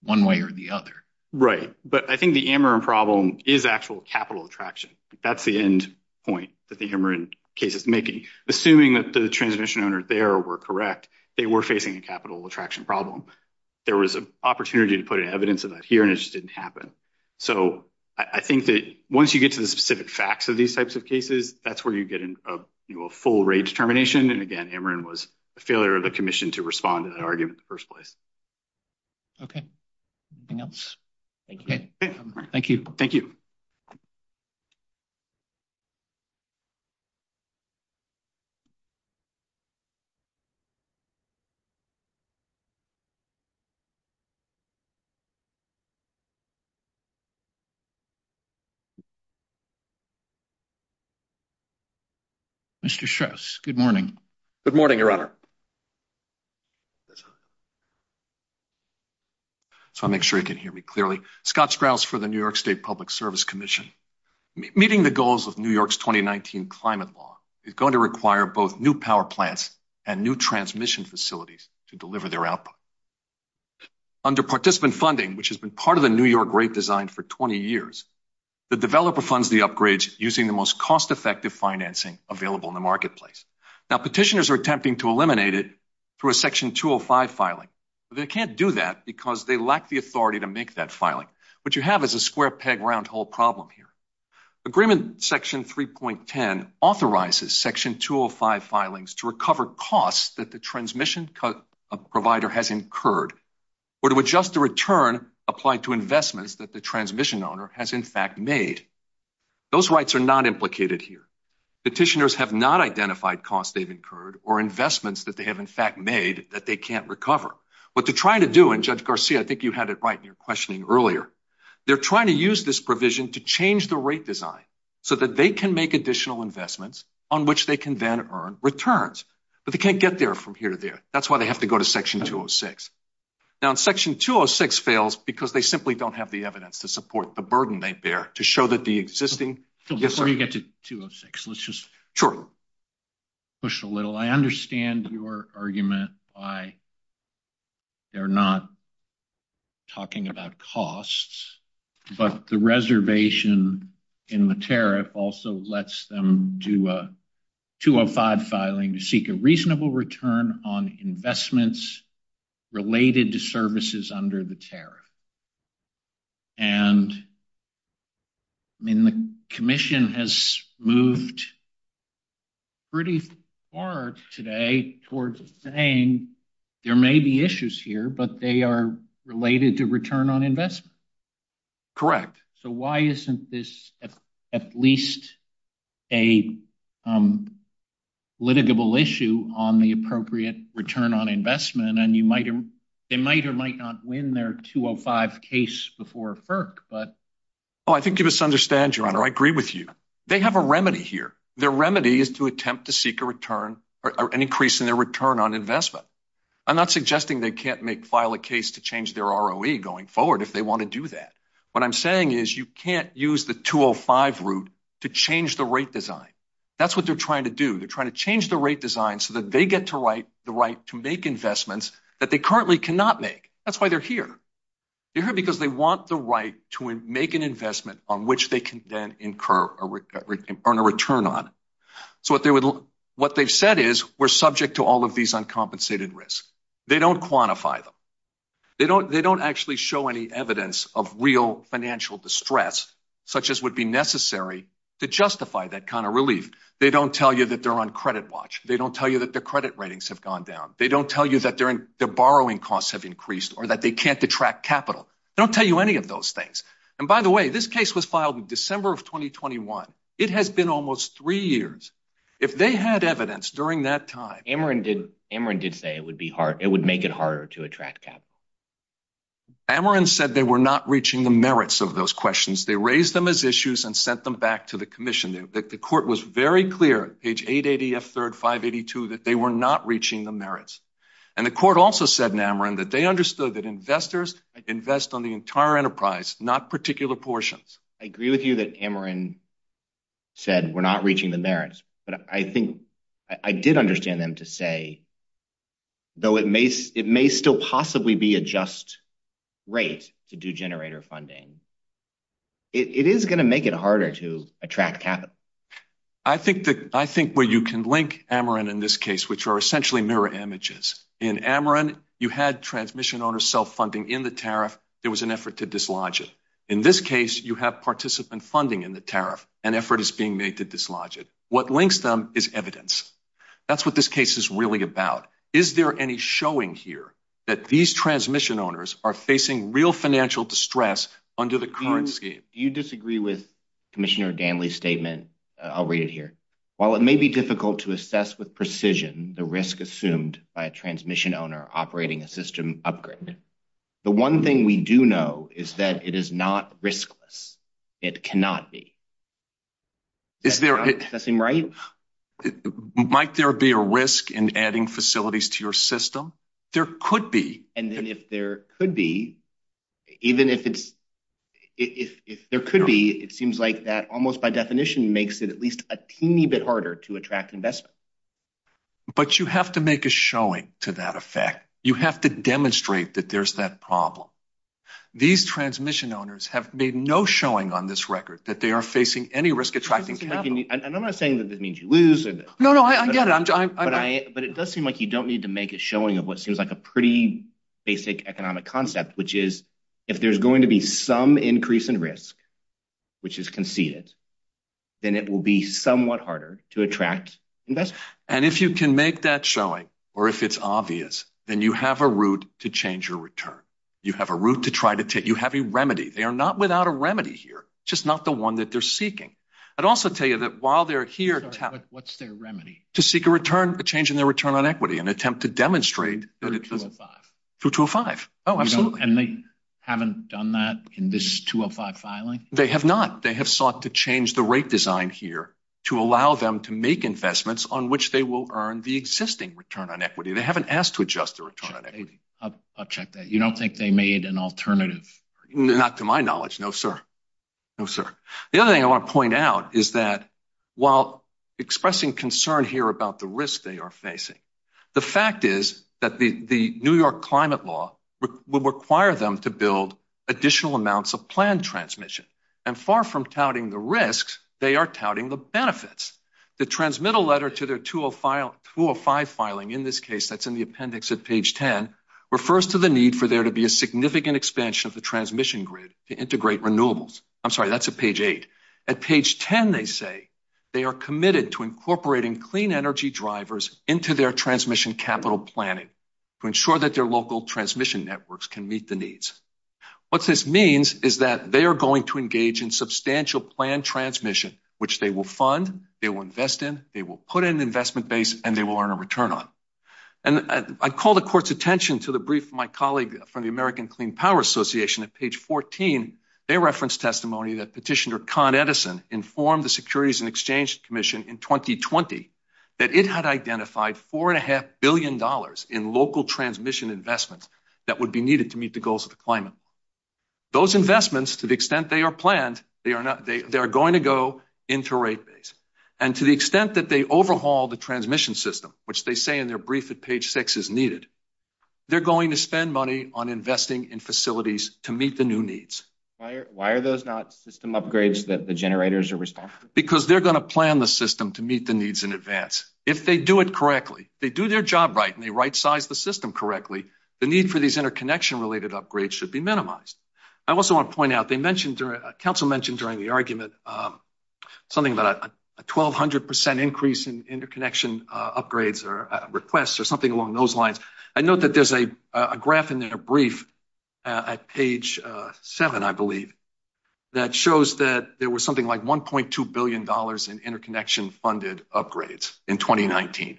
one way or the other. Right. But I think the Ameren problem is actual capital attraction. That's the end point that the Ameren case is making. Assuming that the transmission owners there were correct, they were facing a capital attraction problem. There was an opportunity to put evidence of that here and it just didn't happen. So I think that once you get to the specific facts of these types of cases, that's where you get a full rates termination. And again, Ameren was a failure of the commission to respond to the argument in the first place. OK. Anything else? Thank you. Thank you. Thank you. Mr. Schuss, good morning. Good morning, Your Honor. So I make sure you can hear me clearly. Scott Sprouse for the New York State Public Service Commission. Meeting the goals of New York's 2019 climate law is going to require both new power plants and new transmission facilities to deliver their output. Under participant funding, which has been part of the New York rate design for 20 years, the developer funds the upgrades using the most cost effective financing available in the marketplace. Now, petitioners are attempting to eliminate it through a section 205 filing. They can't do that because they lack the authority to make that filing. What you have is a square peg round hole problem here. Agreement section 3.10 authorizes section 205 filings to recover costs that the transmission provider has incurred or to adjust the return applied to investments that the transmission owner has in fact made. Those rights are not implicated here. Petitioners have not identified costs they've incurred or investments that they have in fact made that they can't recover. What they're trying to do, and Judge Garcia, I think you had it right in your questioning earlier. They're trying to use this provision to change the rate design so that they can make additional investments on which they can then earn returns. But they can't get there from here to there. That's why they have to go to section 206. Section 206 fails because they simply don't have the evidence to support the burden right there to show that the existing... Let me get to 206. Let's just push a little. I understand your argument why they're not talking about costs. But the reservation in the tariff also lets them do a 205 filing to seek a reasonable return on investments related to services under the tariff. And the Commission has moved pretty far today towards saying there may be issues here, but they are related to return on investment. Correct. So why isn't this at least a litigable issue on the appropriate return on investment? And they might or might not win their 205 case before FERC, but... Oh, I think you misunderstand, Your Honor. I agree with you. They have a remedy here. Their remedy is to attempt to seek an increase in their return on investment. I'm not suggesting they can't file a case to change their ROE going forward if they want to do that. What I'm saying is you can't use the 205 route to change the rate design. That's what they're trying to do. They're trying to change the rate design so that they get the right to make investments that they currently cannot make. That's why they're here. They're here because they want the right to make an investment on which they can then incur or earn a return on. So what they've said is we're subject to all of these uncompensated risks. They don't quantify them. They don't actually show any evidence of real financial distress such as would be necessary to justify that kind of relief. They don't tell you that they're on credit watch. They don't tell you that their credit ratings have gone down. They don't tell you that their borrowing costs have increased or that they can't attract capital. They don't tell you any of those things. And by the way, this case was filed in December of 2021. It has been almost three years. If they had evidence during that time... Amarin did say it would make it harder to attract capital. Amarin said they were not reaching the merits of those questions. They raised them as issues and sent them back to the commission. The court was very clear, page 880, F3, 582, that they were not reaching the merits. And the court also said in Amarin that they understood that investors invest on the entire enterprise, not particular portions. I agree with you that Amarin said we're not reaching the merits. But I think I did understand them to say, though it may still possibly be a just rate to do generator funding, it is going to make it harder to attract capital. I think where you can link Amarin in this case, which are essentially mirror images. In Amarin, you had transmission owner self-funding in the tariff. There was an effort to dislodge it. In this case, you have participant funding in the tariff. An effort is being made to dislodge it. What links them is evidence. That's what this case is really about. Is there any showing here that these transmission owners are facing real financial distress under the currency? Do you disagree with Commissioner Danley's statement? I'll read it here. While it may be difficult to assess with precision the risk assumed by a transmission owner operating a system upgrade, the one thing we do know is that it is not riskless. It cannot be. Does that seem right? Might there be a risk in adding facilities to your system? There could be. And then if there could be, it seems like that almost by definition makes it at least a teeny bit harder to attract investment. But you have to make a showing to that effect. You have to demonstrate that there's that problem. These transmission owners have made no showing on this record that they are facing any risk attracting capital. And I'm not saying that this means you lose. No, no, I get it. But it does seem like you don't need to make a showing of what seems like a pretty basic economic concept, which is if there's going to be some increase in risk, which is conceded, then it will be somewhat harder to attract investment. And if you can make that showing, or if it's obvious, then you have a route to change your return. You have a route to try to take. You have a remedy. They are not without a remedy here. It's just not the one that they're seeking. I'd also tell you that while they're here, to seek a return, a change in their return on equity, an attempt to demonstrate. 205. Oh, absolutely. And they haven't done that in this 205 filing? They have not. They have sought to change the rate design here to allow them to make investments on which they will earn the existing return on equity. They haven't asked to adjust the return on equity. I'll check that. You don't think they made an alternative? Not to my knowledge. No, sir. No, sir. The other thing I want to point out is that while expressing concern here about the risk they are facing, the fact is that the New York climate law will require them to build additional amounts of planned transmission. And far from touting the risks, they are touting the benefits. The transmittal letter to their 205 filing, in this case, that's in the appendix at page 10, refers to the need for there to be a significant expansion of the transmission grid to integrate renewables. I'm sorry. That's at page 8. At page 10, they say they are committed to incorporating clean energy drivers into their transmission capital planning to ensure that their local transmission networks can meet the needs. What this means is that they are going to engage in substantial planned transmission, which they will fund, they will invest in, they will put in an investment base, and they will earn a return on. And I called the court's attention to the brief from my colleague from the American Clean Power Association at page 14. They referenced testimony that Petitioner Con Edison informed the Securities and Exchange Commission in 2020 that it had identified $4.5 billion in local transmission investment that would be needed to meet the goals of the climate. Those investments, to the extent they are planned, they are going to go into rate base. And to the extent that they overhaul the transmission system, which they say in their brief at page 6 is needed, they're going to spend money on investing in facilities to meet the new needs. Why are those not system upgrades that the generators are responsible for? Because they're going to plan the system to meet the needs in advance. If they do it correctly, they do their job right, and they right-size the system correctly, the need for these interconnection-related upgrades should be minimized. I also want to point out, Council mentioned during the argument something about a 1,200% increase in interconnection upgrades or requests or something along those lines. I note that there's a graph in their brief at page 7, I believe, that shows that there was something like $1.2 billion in interconnection-funded upgrades in 2019.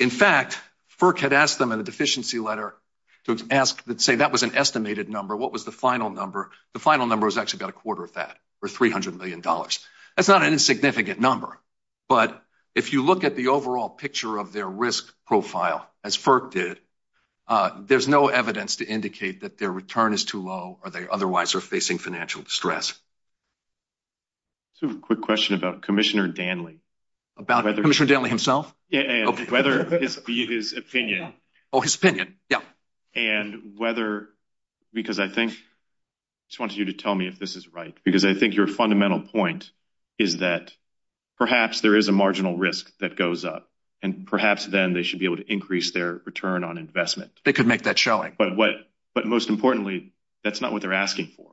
In fact, FERC had asked them in the deficiency letter to say that was an estimated number. What was the final number? The final number was actually about a quarter of that, or $300 million. That's not an insignificant number. But if you look at the overall picture of their risk profile, as FERC did, there's no evidence to indicate that their return is too low or they otherwise are facing financial distress. Just a quick question about Commissioner Danley. About Commissioner Danley himself? Whether it be his opinion. Oh, his opinion, yeah. And whether, because I think, I just wanted you to tell me if this is right, because I think your fundamental point is that perhaps there is a marginal risk that goes up, and perhaps then they should be able to increase their return on investment. They could make that showing. But most importantly, that's not what they're asking for.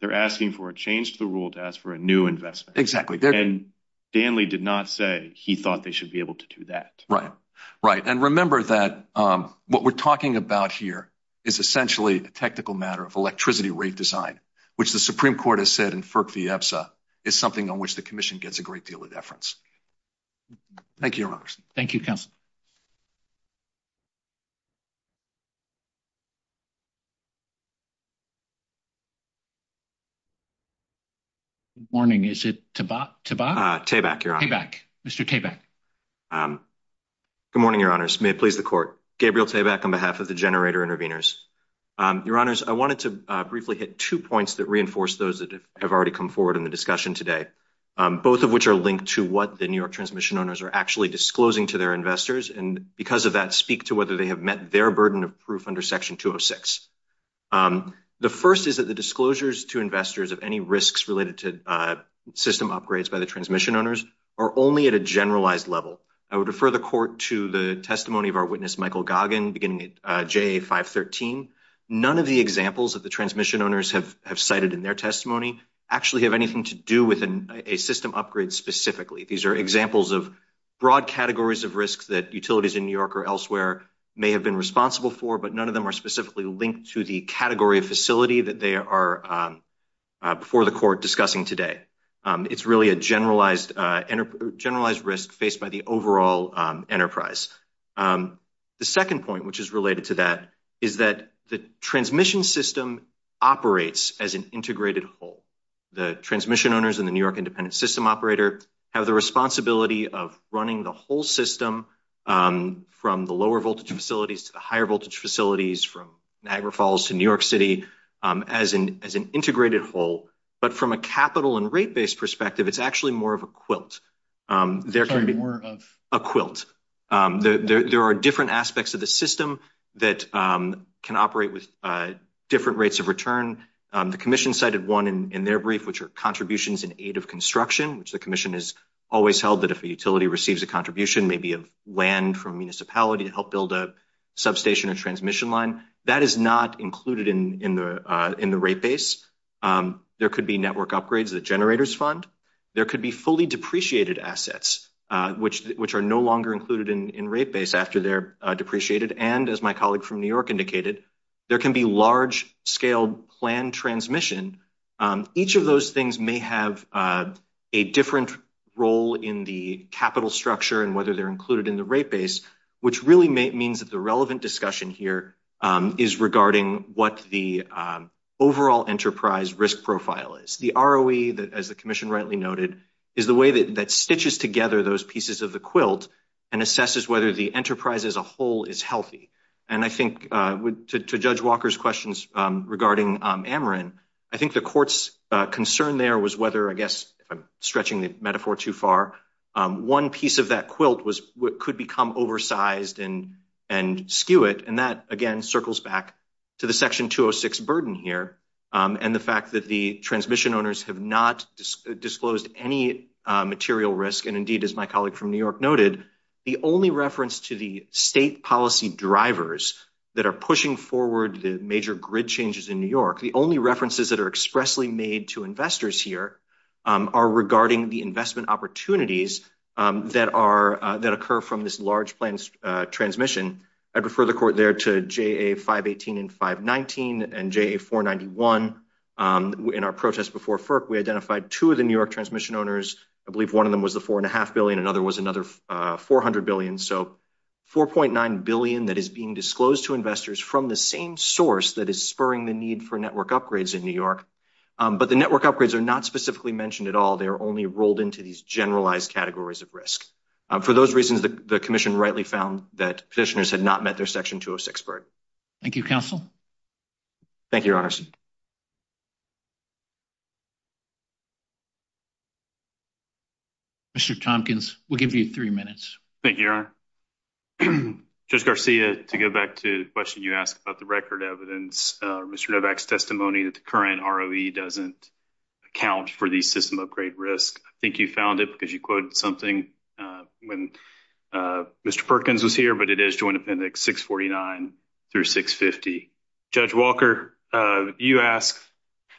They're asking for a change to the rule to ask for a new investment. And Danley did not say he thought they should be able to do that. Right, right. And remember that what we're talking about here is essentially a technical matter of electricity rate design, which the Supreme Court has said in FERC v. EFSA is something on which the Commission gets a great deal of deference. Thank you, Your Honors. Thank you, Counsel. Good morning. Is it Tabak? Tabak, Your Honor. Tabak. Mr. Tabak. Good morning, Your Honors. May it please the Court. Gabriel Tabak on behalf of the Generator Intervenors. Your Honors, I wanted to briefly hit two points that reinforce those that have already come forward in the discussion today, both of which are linked to what the New York Transmission Owners are actually disclosing to their investors, and because of that, speak to whether they have met their burden of proof under Section 206. The first is that the disclosures to investors of any risks related to system upgrades by the Transmission Owners are only at a generalized level. I would refer the Court to the testimony of our witness, Michael Goggin, beginning at JA 513. None of the examples that the Transmission Owners have cited in their testimony actually have anything to do with a system upgrade specifically. These are examples of broad categories of risks that utilities in New York or elsewhere may have been responsible for, but none of them are specifically linked to the category of facility that they are, before the Court, discussing today. It's really a generalized risk faced by the overall enterprise. The second point, which is related to that, is that the transmission system operates as an integrated whole. The Transmission Owners and the New York Independent System Operator have the responsibility of running the whole system from the lower-voltage facilities to the higher-voltage facilities, from Niagara Falls to New York City, as an integrated whole. But from a capital- and rate-based perspective, it's actually more of a quilt. There are different aspects of the system that can operate with different rates of return. The Commission cited one in their brief, which are contributions in aid of construction, which the Commission has always held that if a utility receives a contribution, maybe of land from a municipality to help build a substation or transmission line, that is not included in the rate base. There could be network upgrades that generators fund. There could be fully depreciated assets, which are no longer included in rate base after they're depreciated. And, as my colleague from New York indicated, there can be large-scale planned transmission. Each of those things may have a different role in the capital structure and whether they're included in the rate base, which really means that the relevant discussion here is regarding what the overall enterprise risk profile is. The ROE, as the Commission rightly noted, is the way that stitches together those pieces of the quilt and assesses whether the enterprise as a whole is healthy. And I think, to Judge Walker's questions regarding Ameren, I think the court's concern there was whether, I guess, stretching the metaphor too far, one piece of that quilt could become oversized and skew it, and that, again, circles back to the Section 206 burden here and the fact that the transmission owners have not disclosed any material risk, and, indeed, as my colleague from New York noted, the only reference to the state policy drivers that are pushing forward the major grid changes in New York, the only references that are expressly made to investors here are regarding the investment opportunities that occur from this large planned transmission. I'd refer the court there to JA 518 and 519 and JA 491. In our protest before FERC, we identified two of the New York transmission owners. I believe one of them was the $4.5 billion. Another was another $400 billion, so $4.9 billion that is being disclosed to investors from the same source that is spurring the need for network upgrades in New York, but the network upgrades are not specifically mentioned at all. They are only rolled into these generalized categories of risk. For those reasons, the commission rightly found that petitioners had not met their Section 206 burden. Thank you, counsel. Thank you, Your Honor. Mr. Tompkins, we'll give you three minutes. Thank you, Your Honor. Judge Garcia, to go back to the question you asked about the record evidence, Mr. Novak's testimony that the current ROE doesn't account for the system upgrade risk. I think you found it because you quoted something when Mr. Perkins was here, but it is Joint Appendix 649 through 650. Judge Walker, you asked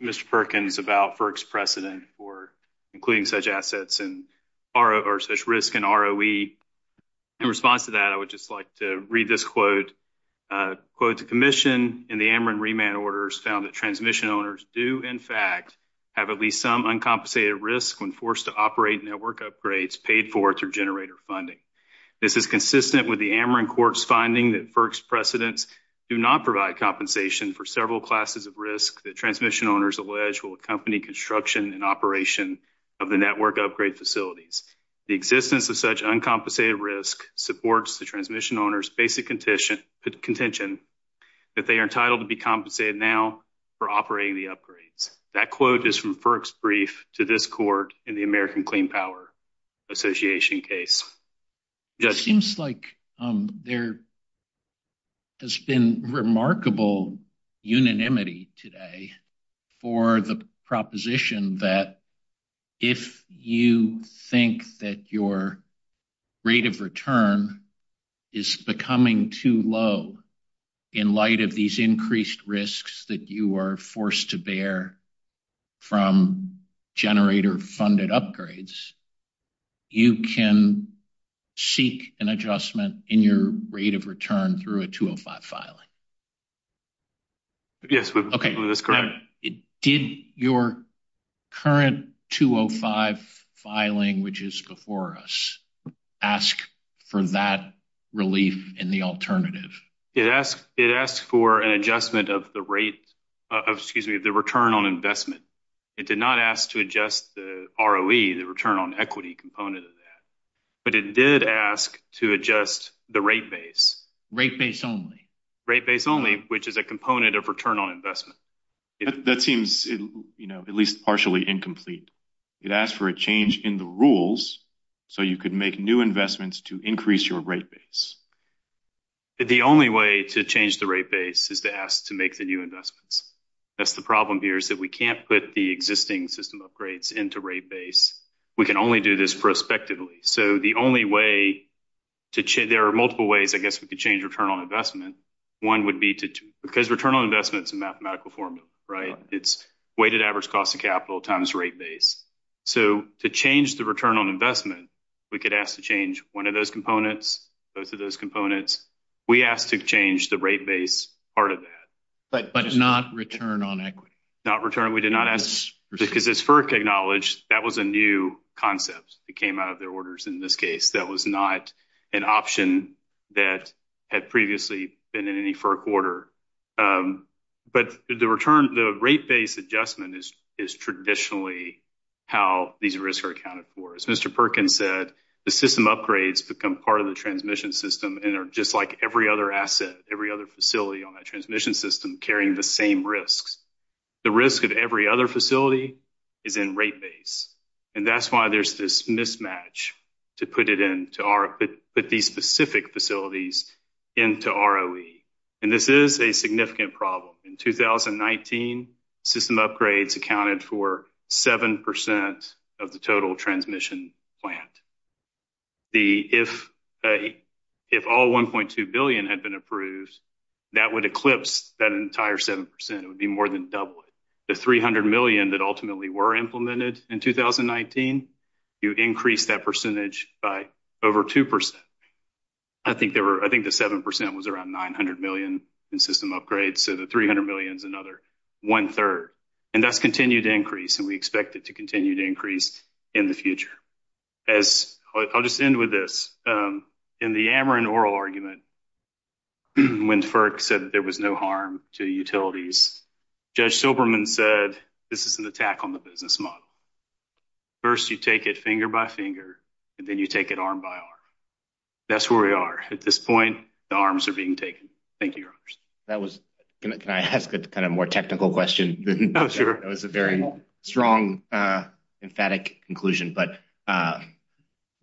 Mr. Perkins about FERC's precedent for including such assets or such risk in ROE. In response to that, I would just like to read this quote. Quote, the commission in the Ameren remand orders found that transmission owners do, in fact, have at least some uncompensated risk when forced to operate network upgrades paid for through generator funding. This is consistent with the Ameren court's finding that FERC's precedents do not provide compensation for several classes of risk that transmission owners allege will accompany construction and operation of the network upgrade facilities. The existence of such uncompensated risk supports the transmission owners' basic contention that they are entitled to be compensated now for operating the upgrades. That quote is from FERC's brief to this court in the American Clean Power Association case. It seems like there has been remarkable unanimity today for the proposition that if you think that your rate of return is becoming too low in light of these increased risks that you are forced to bear from generator-funded upgrades, you can seek an adjustment in your rate of return through a 205 filing. Yes, we believe that's correct. Did your current 205 filing, which is before us, ask for that relief in the alternative? It asked for an adjustment of the rate of, excuse me, the return on investment. It did not ask to adjust the ROE, the return on equity component of that. But it did ask to adjust the rate base. Rate base only. Rate base only, which is a component of return on investment. That seems at least partially incomplete. It asked for a change in the rules so you could make new investments to increase your rate base. The only way to change the rate base is to ask to make the new investments. That's the problem here is that we can't put the existing system upgrades into rate base. We can only do this prospectively. So the only way to change, there are multiple ways, I guess, we could change return on investment. One would be to, because return on investment is a mathematical formula, right? It's weighted average cost of capital times rate base. So to change the return on investment, we could ask to change one of those components, both of those components. We asked to change the rate base part of that. But not return on equity. Not return. We did not ask, because it's FERC technology, that was a new concept. It came out of their orders in this case. That was not an option that had previously been in any FERC order. But the return, the rate base adjustment is traditionally how these risks are accounted for. As Mr. Perkins said, the system upgrades become part of the transmission system and are just like every other asset, every other facility on that transmission system carrying the same risks. The risk of every other facility is in rate base. And that's why there's this mismatch to put it in, to put these specific facilities into ROE. And this is a significant problem. In 2019, system upgrades accounted for 7% of the total transmission plan. If all $1.2 billion had been approved, that would eclipse that entire 7%. It would be more than double it. The $300 million that ultimately were implemented in 2019, you increase that percentage by over 2%. I think the 7% was around $900 million in system upgrades. So the $300 million is another 1 third. And that's continued to increase. And we expect it to continue to increase in the future. I'll just end with this. In the Ameren oral argument, when FERC said that there was no harm to utilities, Judge Silberman said this is an attack on the business model. First, you take it finger by finger, and then you take it arm by arm. That's where we are. At this point, the arms are being taken. Thank you, Your Honors. Can I ask a kind of more technical question? That was a very strong, emphatic conclusion. But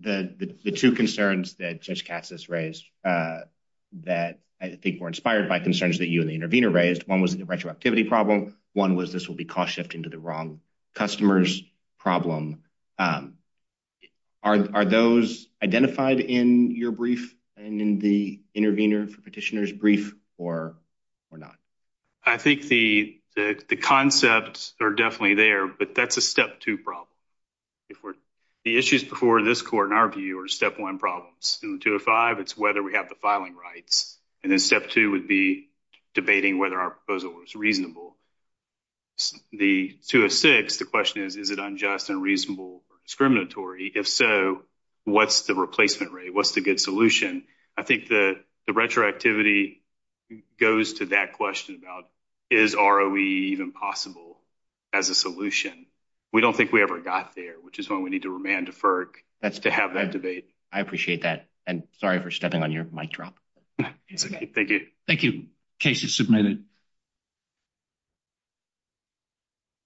the two concerns that Judge Katsas raised that I think were inspired by concerns that you and the intervener raised, one was the retroactivity problem, one was this will be cost-shifting to the wrong customers problem. Are those identified in your brief and in the intervener petitioner's brief or not? I think the concepts are definitely there, but that's a step-two problem. The issues before this court, in our view, are step-one problems. In 205, it's whether we have the filing rights. And then step-two would be debating whether our proposal was reasonable. The 206, the question is, is it unjust and reasonable or discriminatory? If so, what's the replacement rate? What's the good solution? I think the retroactivity goes to that question about, is ROE even possible as a solution? We don't think we ever got there, which is why we need to remand to FERC to have that debate. I appreciate that. And sorry for stepping on your mic drop. Thank you. Thank you. Case is submitted.